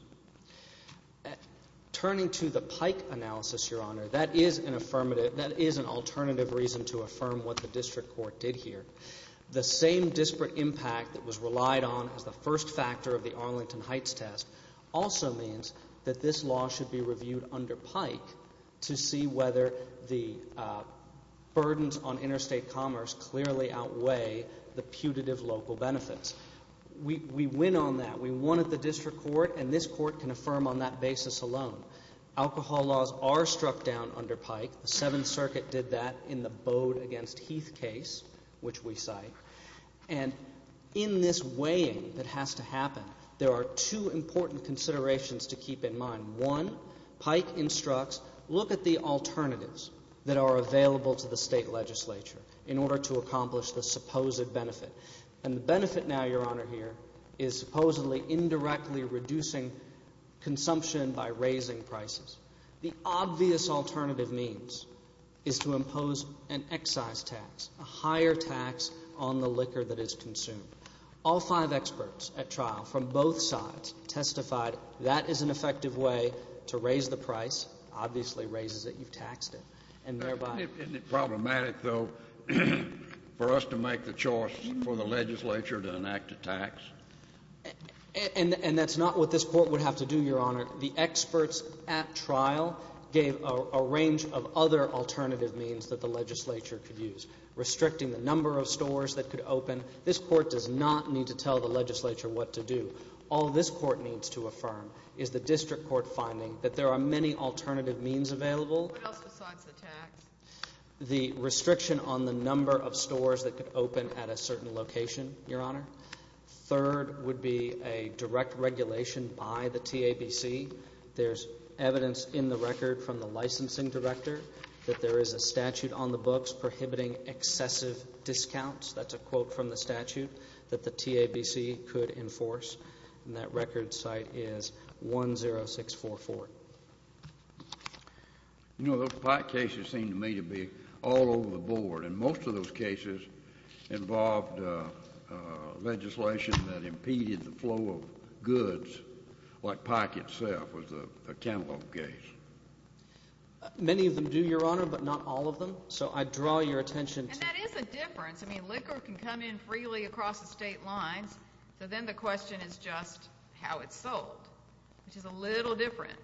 Turning to the Pike analysis, Your Honor, that is an alternative reason to affirm what the district court did here. The same disparate impact that was relied on as the first factor of the Arlington Heights test also means that this law should be reviewed under Pike to see whether the burdens on interstate commerce clearly outweigh the putative local benefits. We win on that. We won at the district court, and this court can affirm on that basis alone. Alcohol laws are struck down under Pike. The Seventh Circuit did that in the Bode v. Heath case, which we cite. And in this weighing that has to happen, there are two important considerations to keep in mind. One, Pike instructs, look at the alternatives that are available to the state legislature in order to accomplish the supposed benefit. And the benefit now, Your Honor, here is supposedly indirectly reducing consumption by raising prices. The obvious alternative means is to impose an excise tax, a higher tax on the liquor that is consumed. All five experts at trial from both sides testified that is an effective way to raise the price, obviously raises it, you've taxed it, and thereby — Isn't it problematic, though, for us to make the choice for the legislature to enact a tax? And that's not what this court would have to do, Your Honor. The experts at trial gave a range of other alternative means that the legislature could use, restricting the number of stores that could open. This court does not need to tell the legislature what to do. All this court needs to affirm is the district court finding that there are many alternative means available. What else besides the tax? The restriction on the number of stores that could open at a certain location, Your Honor. Third would be a direct regulation by the TABC. There's evidence in the record from the licensing director that there is a statute on the books prohibiting excessive discounts. That's a quote from the statute that the TABC could enforce. And that record site is 10644. You know, those Pike cases seem to me to be all over the board, and most of those cases involved legislation that impeded the flow of goods, like Pike itself was a cantaloupe case. Many of them do, Your Honor, but not all of them. So I draw your attention to — And that is a difference. I mean, liquor can come in freely across the state lines, so then the question is just how it's sold, which is a little different.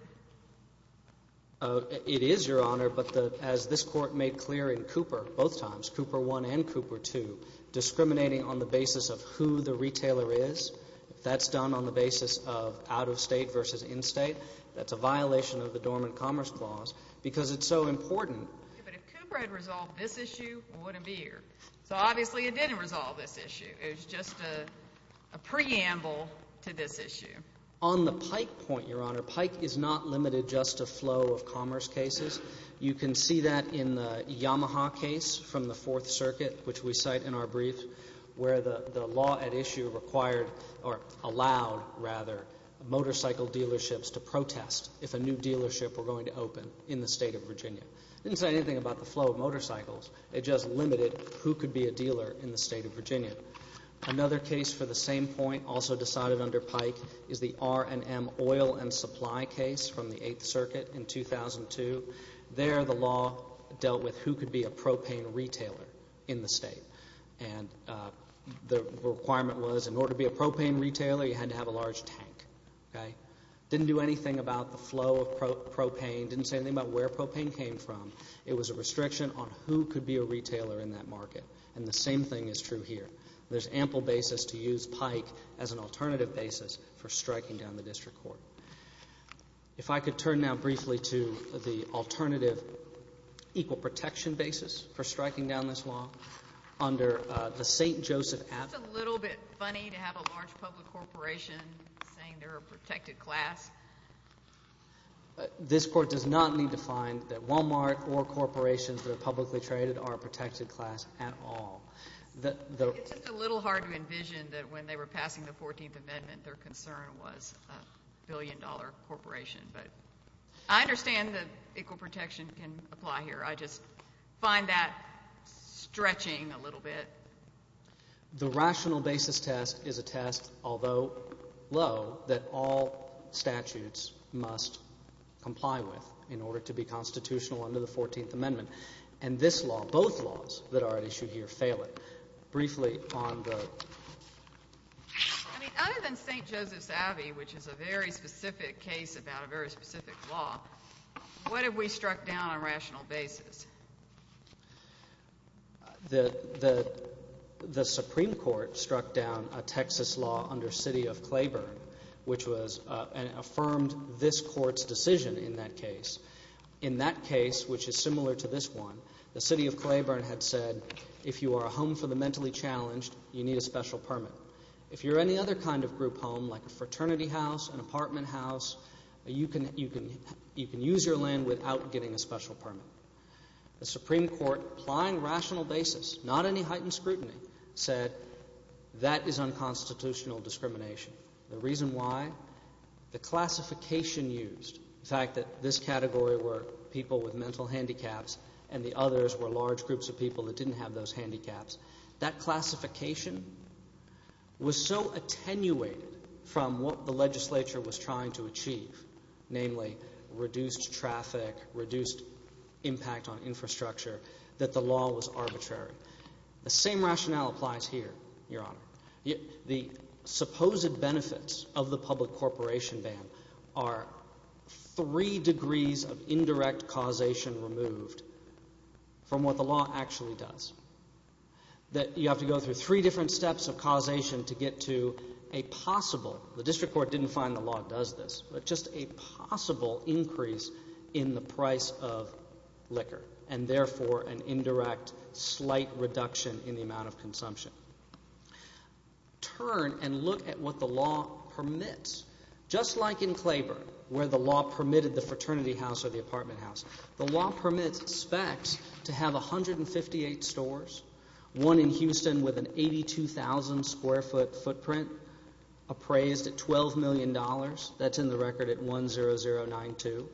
It is, Your Honor, but as this court made clear in Cooper both times, Cooper I and Cooper II, discriminating on the basis of who the retailer is, if that's done on the basis of out-of-state versus in-state, that's a violation of the Dormant Commerce Clause because it's so important. But if Cooper had resolved this issue, I wouldn't be here. So obviously it didn't resolve this issue. It was just a preamble to this issue. On the Pike point, Your Honor, Pike is not limited just to flow of commerce cases. You can see that in the Yamaha case from the Fourth Circuit, which we cite in our brief, where the law at issue required or allowed, rather, motorcycle dealerships to protest if a new dealership were going to open in the state of Virginia. It didn't say anything about the flow of motorcycles. It just limited who could be a dealer in the state of Virginia. Another case for the same point, also decided under Pike, is the R&M oil and supply case from the Eighth Circuit in 2002. There the law dealt with who could be a propane retailer in the state. And the requirement was in order to be a propane retailer, you had to have a large tank. Didn't do anything about the flow of propane. Didn't say anything about where propane came from. It was a restriction on who could be a retailer in that market. And the same thing is true here. There's ample basis to use Pike as an alternative basis for striking down the district court. If I could turn now briefly to the alternative equal protection basis for striking down this law under the St. Joseph Act. It's a little bit funny to have a large public corporation saying they're a protected class. This court does not need to find that Walmart or corporations that are publicly traded are a protected class at all. It's just a little hard to envision that when they were passing the 14th Amendment, their concern was a billion dollar corporation. But I understand that equal protection can apply here. I just find that stretching a little bit. The rational basis test is a test, although low, that all statutes must comply with in order to be constitutional under the 14th Amendment. And this law, both laws that are at issue here, fail it. Briefly on the… I mean, other than St. Joseph's Abbey, which is a very specific case about a very specific law, what have we struck down on rational basis? The Supreme Court struck down a Texas law under City of Claiborne, which was – and affirmed this court's decision in that case. In that case, which is similar to this one, the City of Claiborne had said if you are a home for the mentally challenged, you need a special permit. If you're any other kind of group home, like a fraternity house, an apartment house, you can use your land without getting a special permit. The Supreme Court, applying rational basis, not any heightened scrutiny, said that is unconstitutional discrimination. The reason why? The classification used, the fact that this category were people with mental handicaps and the others were large groups of people that didn't have those handicaps, that classification was so attenuated from what the legislature was trying to achieve, namely reduced traffic, reduced impact on infrastructure, that the law was arbitrary. The same rationale applies here, Your Honor. The supposed benefits of the public corporation ban are three degrees of indirect causation removed from what the law actually does. You have to go through three different steps of causation to get to a possible – the district court didn't find the law does this – but just a possible increase in the price of liquor and, therefore, an indirect slight reduction in the amount of consumption. Turn and look at what the law permits, just like in Claiborne where the law permitted the fraternity house or the apartment house. The law permits specs to have 158 stores, one in Houston with an 82,000-square-foot footprint appraised at $12 million. That's in the record at 10092.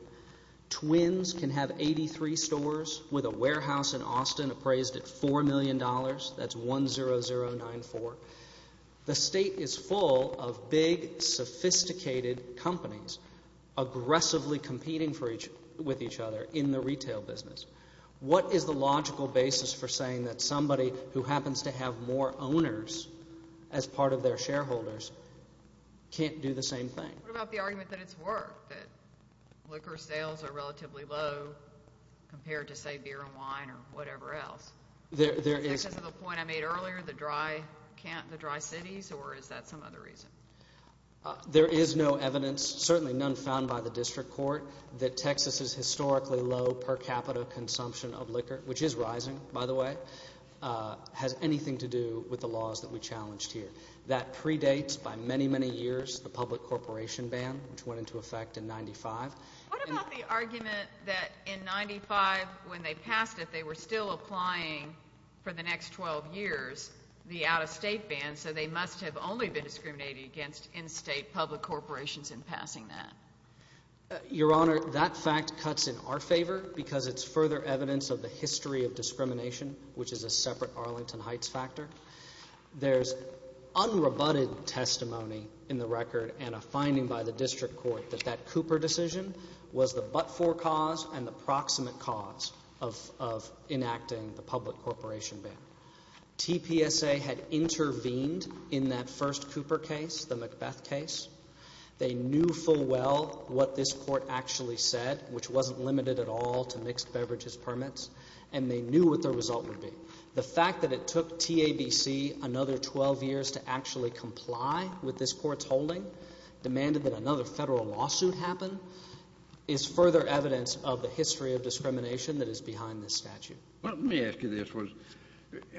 Twins can have 83 stores with a warehouse in Austin appraised at $4 million. That's 10094. The state is full of big, sophisticated companies aggressively competing with each other in the retail business. What is the logical basis for saying that somebody who happens to have more owners as part of their shareholders can't do the same thing? What about the argument that it's work, that liquor sales are relatively low compared to, say, beer and wine or whatever else? Is this the point I made earlier, the dry cities, or is that some other reason? There is no evidence, certainly none found by the district court, that Texas's historically low per capita consumption of liquor, which is rising, by the way, has anything to do with the laws that we challenged here. That predates by many, many years the public corporation ban, which went into effect in 1995. What about the argument that in 1995, when they passed it, they were still applying for the next 12 years the out-of-state ban, so they must have only been discriminated against in-state public corporations in passing that? Your Honor, that fact cuts in our favor because it's further evidence of the history of discrimination, which is a separate Arlington Heights factor. There's unrebutted testimony in the record and a finding by the district court that that Cooper decision was the but-for cause and the proximate cause of enacting the public corporation ban. TPSA had intervened in that first Cooper case, the Macbeth case. They knew full well what this court actually said, which wasn't limited at all to mixed beverages permits, and they knew what the result would be. The fact that it took TABC another 12 years to actually comply with this court's holding, demanded that another federal lawsuit happen, is further evidence of the history of discrimination that is behind this statute. Let me ask you this.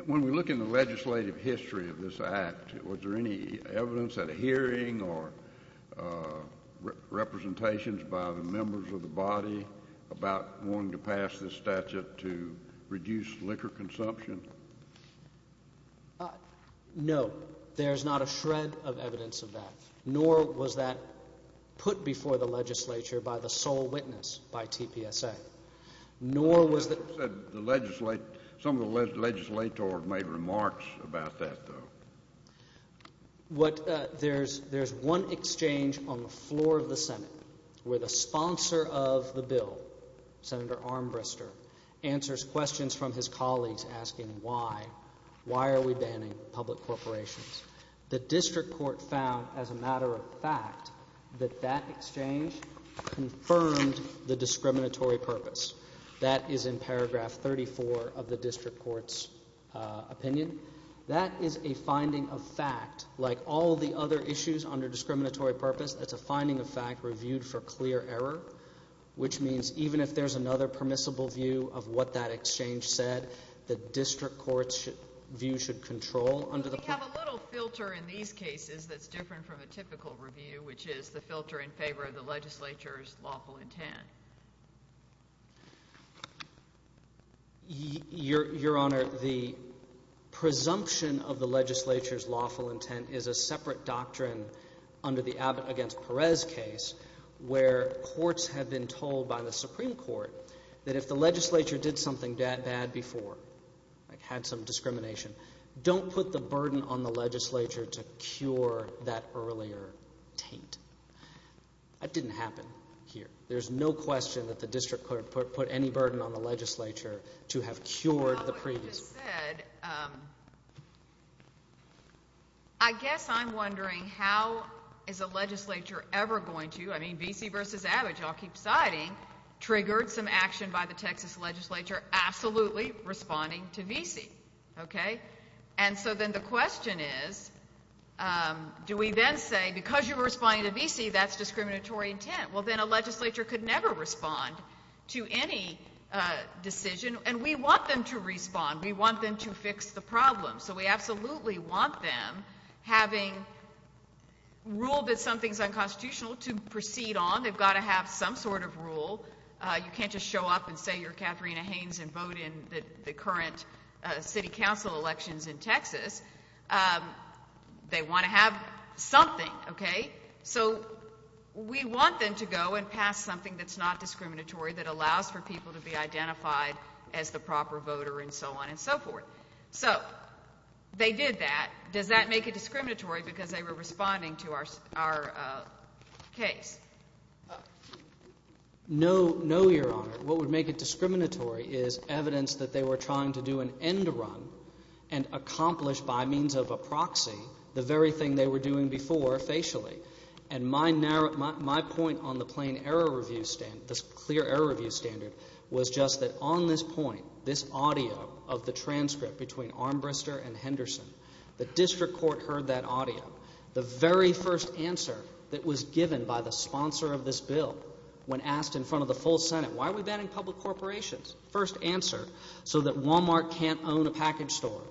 When we look in the legislative history of this act, was there any evidence at a hearing or representations by the members of the body about wanting to pass this statute to reduce liquor consumption? No, there's not a shred of evidence of that, nor was that put before the legislature by the sole witness by TPSA. Some of the legislators made remarks about that, though. There's one exchange on the floor of the Senate where the sponsor of the bill, Senator Armbruster, answers questions from his colleagues asking why. Why are we banning public corporations? The district court found, as a matter of fact, that that exchange confirmed the discriminatory purpose. That is in paragraph 34 of the district court's opinion. That is a finding of fact. Like all the other issues under discriminatory purpose, that's a finding of fact reviewed for clear error, which means even if there's another permissible view of what that exchange said, the district court's view should control. We have a little filter in these cases that's different from a typical review, which is the filter in favor of the legislature's lawful intent. Your Honor, the presumption of the legislature's lawful intent is a separate doctrine under the Abbott v. Perez case where courts have been told by the Supreme Court that if the legislature did something bad before, like had some discrimination, don't put the burden on the legislature to cure that earlier taint. That didn't happen here. There's no question that the district court put any burden on the legislature to have cured the previous. I guess I'm wondering how is a legislature ever going to, I mean, Vesey v. Abbott, y'all keep siding, triggered some action by the Texas legislature absolutely responding to Vesey. And so then the question is, do we then say because you were responding to Vesey, that's discriminatory intent? Well, then a legislature could never respond to any decision, and we want them to respond. We want them to fix the problem. So we absolutely want them having ruled that something's unconstitutional to proceed on. They've got to have some sort of rule. You can't just show up and say you're Katharina Haynes and vote in the current city council elections in Texas. They want to have something, okay? So we want them to go and pass something that's not discriminatory that allows for people to be identified as the proper voter and so on and so forth. So they did that. Does that make it discriminatory because they were responding to our case? No, Your Honor. What would make it discriminatory is evidence that they were trying to do an end run and accomplish by means of a proxy the very thing they were doing before facially. And my point on the plain error review standard, this clear error review standard, was just that on this point, this audio of the transcript between Armbrister and Henderson, the district court heard that audio. The very first answer that was given by the sponsor of this bill when asked in front of the full Senate, why are we banning public corporations? First answer, so that Walmart can't own a package store.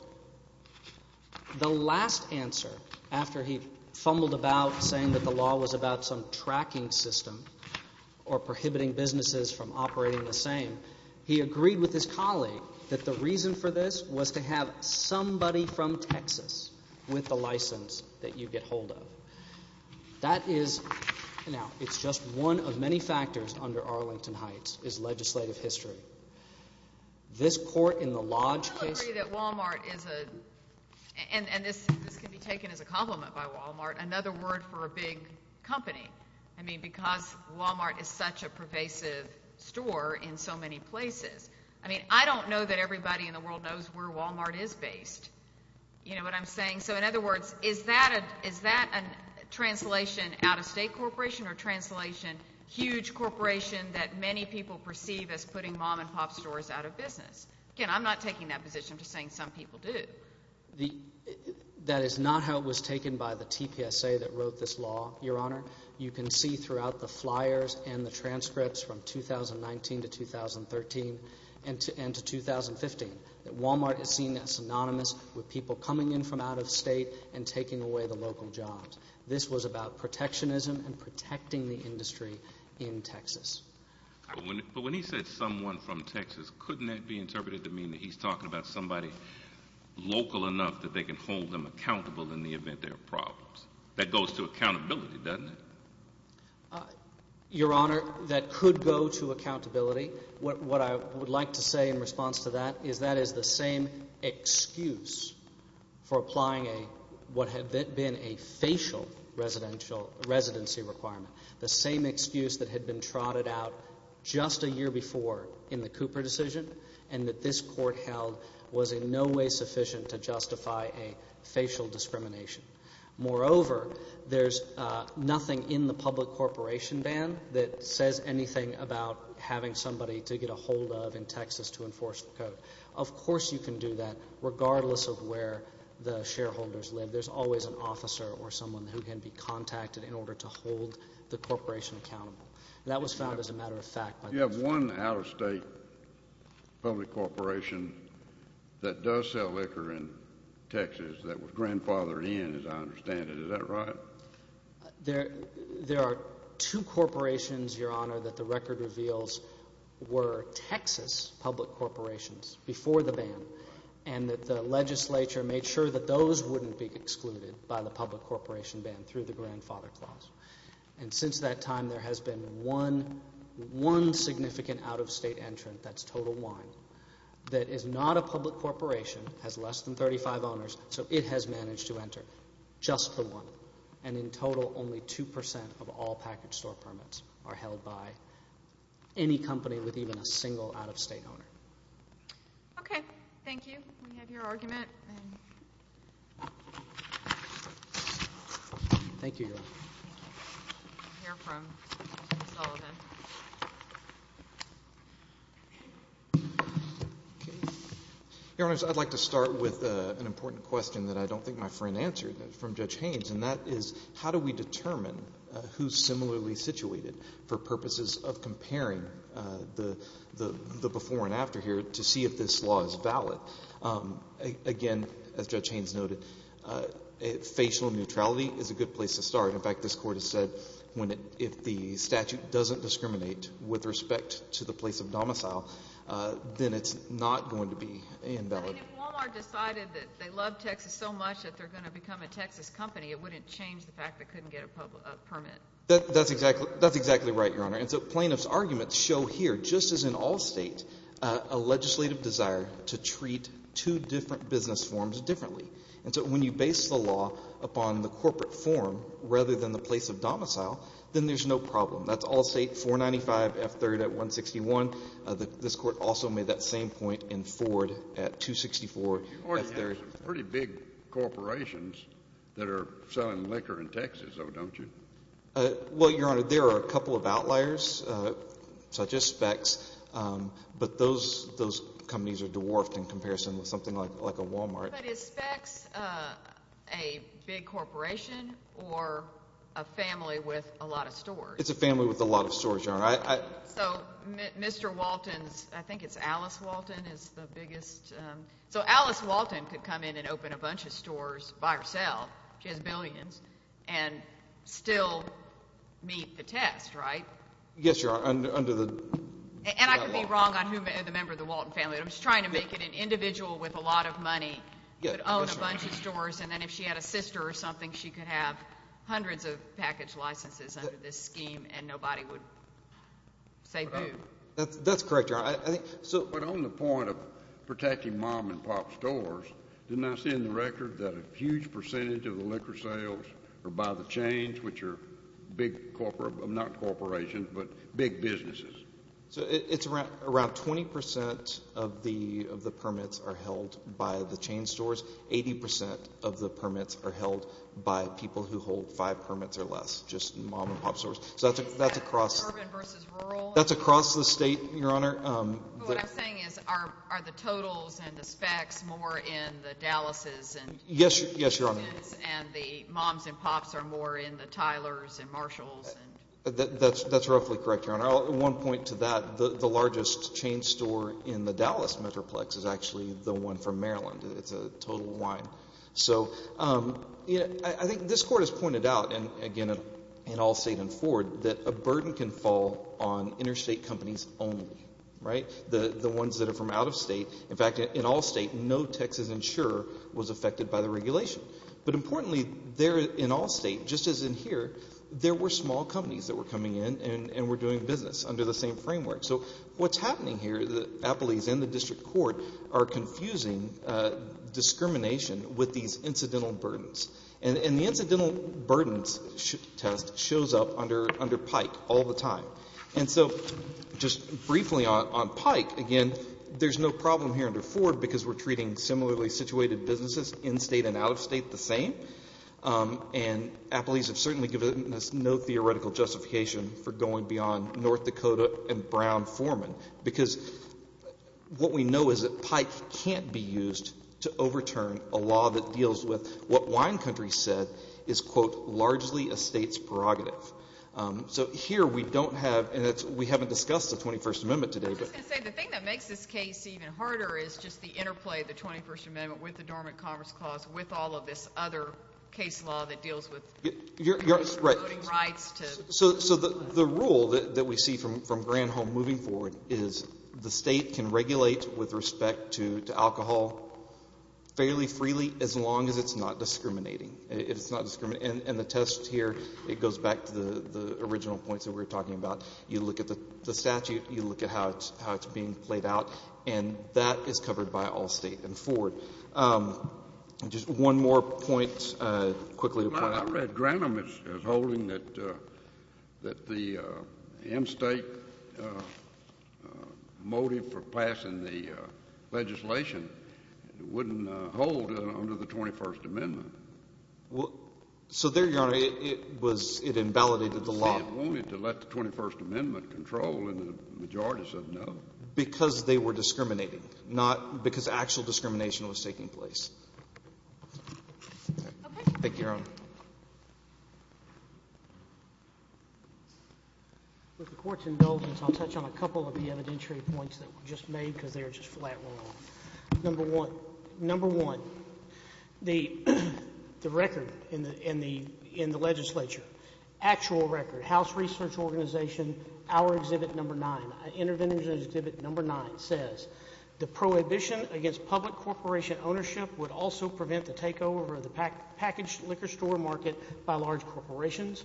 The last answer after he fumbled about saying that the law was about some tracking system or prohibiting businesses from operating the same, he agreed with his colleague that the reason for this was to have somebody from Texas with the license that you get hold of. That is – now, it's just one of many factors under Arlington Heights is legislative history. This court in the Lodge case – I don't agree that Walmart is a – and this can be taken as a compliment by Walmart, another word for a big company. I mean because Walmart is such a pervasive store in so many places. I mean I don't know that everybody in the world knows where Walmart is based, you know what I'm saying? So in other words, is that a translation out-of-state corporation or translation huge corporation that many people perceive as putting mom-and-pop stores out of business? Again, I'm not taking that position. I'm just saying some people do. That is not how it was taken by the TPSA that wrote this law, Your Honor. You can see throughout the flyers and the transcripts from 2019 to 2013 and to 2015 that Walmart has seen that synonymous with people coming in from out-of-state and taking away the local jobs. This was about protectionism and protecting the industry in Texas. But when he said someone from Texas, couldn't that be interpreted to mean that he's talking about somebody local enough that they can hold them accountable in the event there are problems? That goes to accountability, doesn't it? Your Honor, that could go to accountability. What I would like to say in response to that is that is the same excuse for applying what had been a facial residency requirement, the same excuse that had been trotted out just a year before in the Cooper decision and that this court held was in no way sufficient to justify a facial discrimination. Moreover, there's nothing in the public corporation ban that says anything about having somebody to get a hold of in Texas to enforce the code. Of course you can do that regardless of where the shareholders live. There's always an officer or someone who can be contacted in order to hold the corporation accountable. That was found as a matter of fact. You have one out-of-state public corporation that does sell liquor in Texas that was grandfathered in, as I understand it. Is that right? There are two corporations, Your Honor, that the record reveals were Texas public corporations before the ban and that the legislature made sure that those wouldn't be excluded by the public corporation ban through the grandfather clause. And since that time, there has been one significant out-of-state entrant, that's total one, that is not a public corporation, has less than 35 owners, so it has managed to enter, just the one. And in total, only 2% of all package store permits are held by any company with even a single out-of-state owner. Okay, thank you. We have your argument. Thank you, Your Honor. We'll hear from Mr. Sullivan. Okay. Your Honors, I'd like to start with an important question that I don't think my friend answered from Judge Haynes, and that is how do we determine who's similarly situated for purposes of comparing the before and after here to see if this law is valid? Again, as Judge Haynes noted, facial neutrality is a good place to start. In fact, this Court has said if the statute doesn't discriminate with respect to the place of domicile, then it's not going to be invalid. I mean, if Walmart decided that they love Texas so much that they're going to become a Texas company, it wouldn't change the fact they couldn't get a permit. That's exactly right, Your Honor. And so plaintiff's arguments show here, just as in all State, a legislative desire to treat two different business forms differently. And so when you base the law upon the corporate form rather than the place of domicile, then there's no problem. That's all State, 495 F-3rd at 161. This Court also made that same point in Ford at 264 F-3rd. You already have some pretty big corporations that are selling liquor in Texas, though, don't you? Well, Your Honor, there are a couple of outliers, such as Specs. But those companies are dwarfed in comparison with something like a Walmart. But is Specs a big corporation or a family with a lot of stores? It's a family with a lot of stores, Your Honor. So Mr. Walton's, I think it's Alice Walton, is the biggest. So Alice Walton could come in and open a bunch of stores by herself. She has billions, and still meet the test, right? Yes, Your Honor, under the Walton family. And I could be wrong on who the member of the Walton family is. I'm just trying to make it an individual with a lot of money could own a bunch of stores. And then if she had a sister or something, she could have hundreds of package licenses under this scheme, and nobody would say boo. That's correct, Your Honor. But on the point of protecting mom-and-pop stores, didn't I see in the record that a huge percentage of the liquor sales are by the chains, which are big, not corporations, but big businesses? So it's around 20 percent of the permits are held by the chain stores. Eighty percent of the permits are held by people who hold five permits or less, just mom-and-pop stores. Is that urban versus rural? That's across the state, Your Honor. But what I'm saying is, are the totals and the specs more in the Dallas's and Houston's? Yes, Your Honor. And the moms-and-pops are more in the Tyler's and Marshall's? That's roughly correct, Your Honor. I'll add one point to that. The largest chain store in the Dallas metroplex is actually the one from Maryland. It's a Total Wine. So I think this court has pointed out, and again, in all state and forward, that a burden can fall on interstate companies only, right? The ones that are from out of state. In fact, in all state, no Texas insurer was affected by the regulation. But importantly, in all state, just as in here, there were small companies that were coming in and were doing business under the same framework. So what's happening here is that Applebee's and the district court are confusing discrimination with these incidental burdens. And the incidental burdens test shows up under Pike all the time. And so just briefly on Pike, again, there's no problem here under Ford because we're treating similarly situated businesses in state and out of state the same. And Applebee's has certainly given us no theoretical justification for going beyond North Dakota and Brown Foreman. Because what we know is that Pike can't be used to overturn a law that deals with what Wine Country said is, quote, largely a state's prerogative. So here we don't have, and we haven't discussed the 21st Amendment today. The thing that makes this case even harder is just the interplay of the 21st Amendment with the Dormant Commerce Clause with all of this other case law that deals with voting rights. So the rule that we see from Granholm moving forward is the state can regulate with respect to alcohol fairly freely as long as it's not discriminating. And the test here, it goes back to the original points that we were talking about. You look at the statute, you look at how it's being played out, and that is covered by all state and Ford. Just one more point quickly to point out. Well, I read Granholm as holding that the M-State motive for passing the legislation wouldn't hold under the 21st Amendment. Well, so there, Your Honor, it was — it invalidated the law. Only to let the 21st Amendment control, and the majority said no. Because they were discriminating, not because actual discrimination was taking place. Thank you, Your Honor. With the Court's indulgence, I'll touch on a couple of the evidentiary points that were just made because they were just flat wrong. Number one, the record in the legislature, actual record, House Research Organization, our Exhibit Number 9, Intervention Exhibit Number 9 says, the prohibition against public corporation ownership would also prevent the takeover of the packaged liquor store market by large corporations.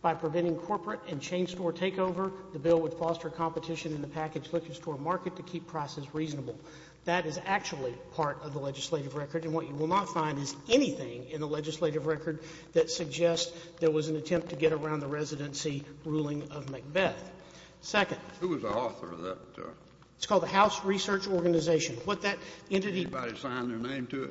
By preventing corporate and chain store takeover, the bill would foster competition in the packaged liquor store market to keep prices reasonable. That is actually part of the legislative record. And what you will not find is anything in the legislative record that suggests there was an attempt to get around the residency ruling of Macbeth. Second — Who was the author of that? It's called the House Research Organization. What that entity — Somebody signed their name to it.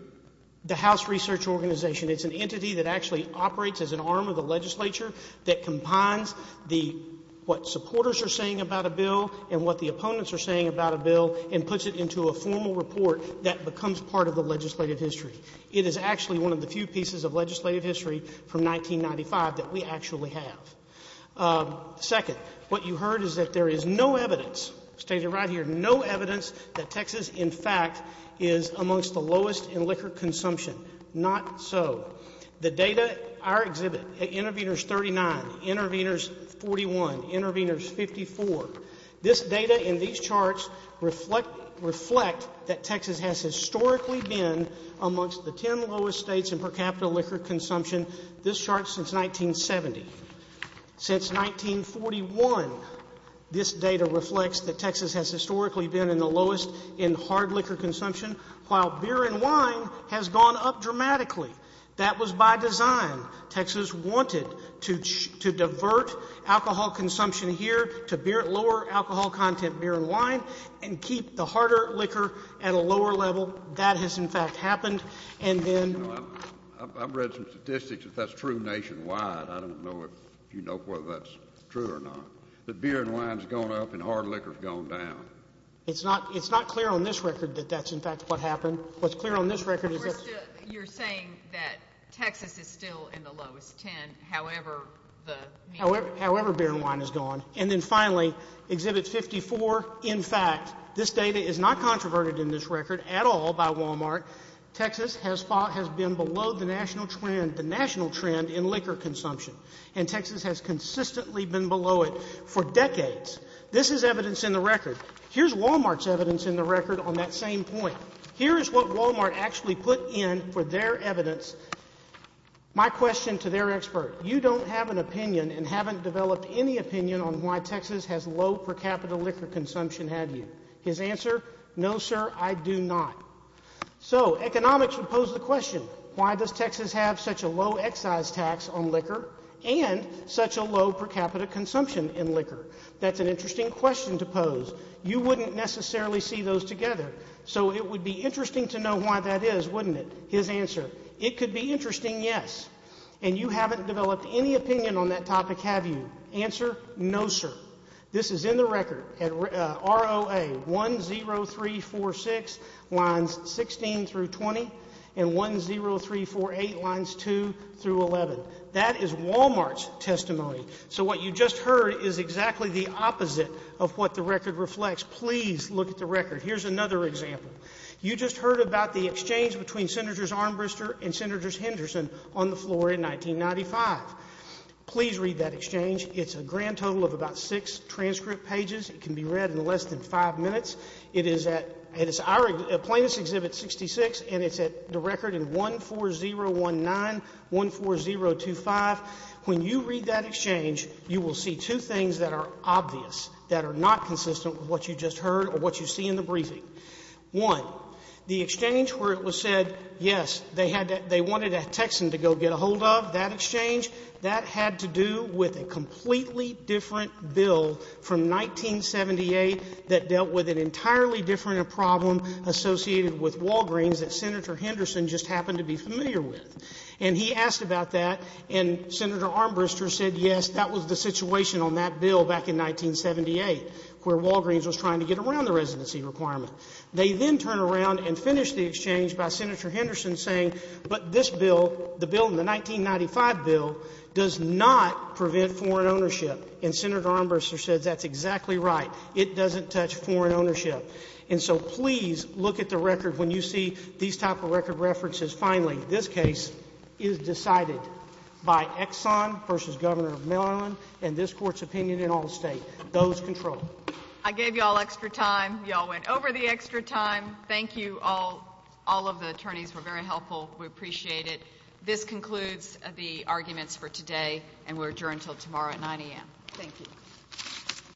The House Research Organization. It's an entity that actually operates as an arm of the legislature that combines the — what supporters are saying about a bill and what the opponents are saying about a bill and puts it into a formal report that becomes part of the legislative history. It is actually one of the few pieces of legislative history from 1995 that we actually have. Second, what you heard is that there is no evidence, stated right here, no evidence that Texas, in fact, is amongst the lowest in liquor consumption. Not so. The data — our exhibit, Interveners 39, Interveners 41, Interveners 54, this data and these charts reflect that Texas has historically been amongst the 10 lowest states in per capita liquor consumption. This chart is since 1970. Since 1941, this data reflects that Texas has historically been in the lowest in hard liquor consumption, while beer and wine has gone up dramatically. That was by design. Texas wanted to divert alcohol consumption here to beer — lower alcohol content beer and wine and keep the harder liquor at a lower level. That has, in fact, happened. And then — I don't know if you know whether that's true or not — that beer and wine has gone up and hard liquor has gone down. It's not — it's not clear on this record that that's, in fact, what happened. What's clear on this record is that — You're saying that Texas is still in the lowest 10, however the — However beer and wine has gone. And then, finally, Exhibit 54, in fact, this data is not controverted in this record at all by Walmart. Texas has been below the national trend in liquor consumption. And Texas has consistently been below it for decades. This is evidence in the record. Here's Walmart's evidence in the record on that same point. Here is what Walmart actually put in for their evidence. My question to their expert. You don't have an opinion and haven't developed any opinion on why Texas has low per capita liquor consumption, have you? His answer? No, sir, I do not. So, economics would pose the question, why does Texas have such a low excise tax on liquor and such a low per capita consumption in liquor? That's an interesting question to pose. You wouldn't necessarily see those together. So it would be interesting to know why that is, wouldn't it? His answer? It could be interesting, yes. And you haven't developed any opinion on that topic, have you? Answer? No, sir. This is in the record, ROA 10346, lines 16 through 20, and 10348, lines 2 through 11. That is Walmart's testimony. So what you just heard is exactly the opposite of what the record reflects. Please look at the record. Here's another example. You just heard about the exchange between Senators Armbruster and Senators Henderson on the floor in 1995. Please read that exchange. It's a grand total of about six transcript pages. It can be read in less than five minutes. It is at Our Plaintiffs' Exhibit 66, and it's at the record in 14019, 14025. When you read that exchange, you will see two things that are obvious, that are not consistent with what you just heard or what you see in the briefing. One, the exchange where it was said, yes, they had that they wanted a Texan to go get a hold of, that exchange. That had to do with a completely different bill from 1978 that dealt with an entirely different problem associated with Walgreens that Senator Henderson just happened to be familiar with. And he asked about that, and Senator Armbruster said, yes, that was the situation on that bill back in 1978 where Walgreens was trying to get around the residency requirement. They then turn around and finish the exchange by Senator Henderson saying, but this does not prevent foreign ownership. And Senator Armbruster says, that's exactly right. It doesn't touch foreign ownership. And so please look at the record. When you see these type of record references, finally, this case is decided by Exxon v. Governor Mellon and this Court's opinion in all state. Those control. I gave you all extra time. You all went over the extra time. Thank you. All of the attorneys were very helpful. We appreciate it. This concludes the arguments for today, and we'll adjourn until tomorrow at 9 a.m. Thank you.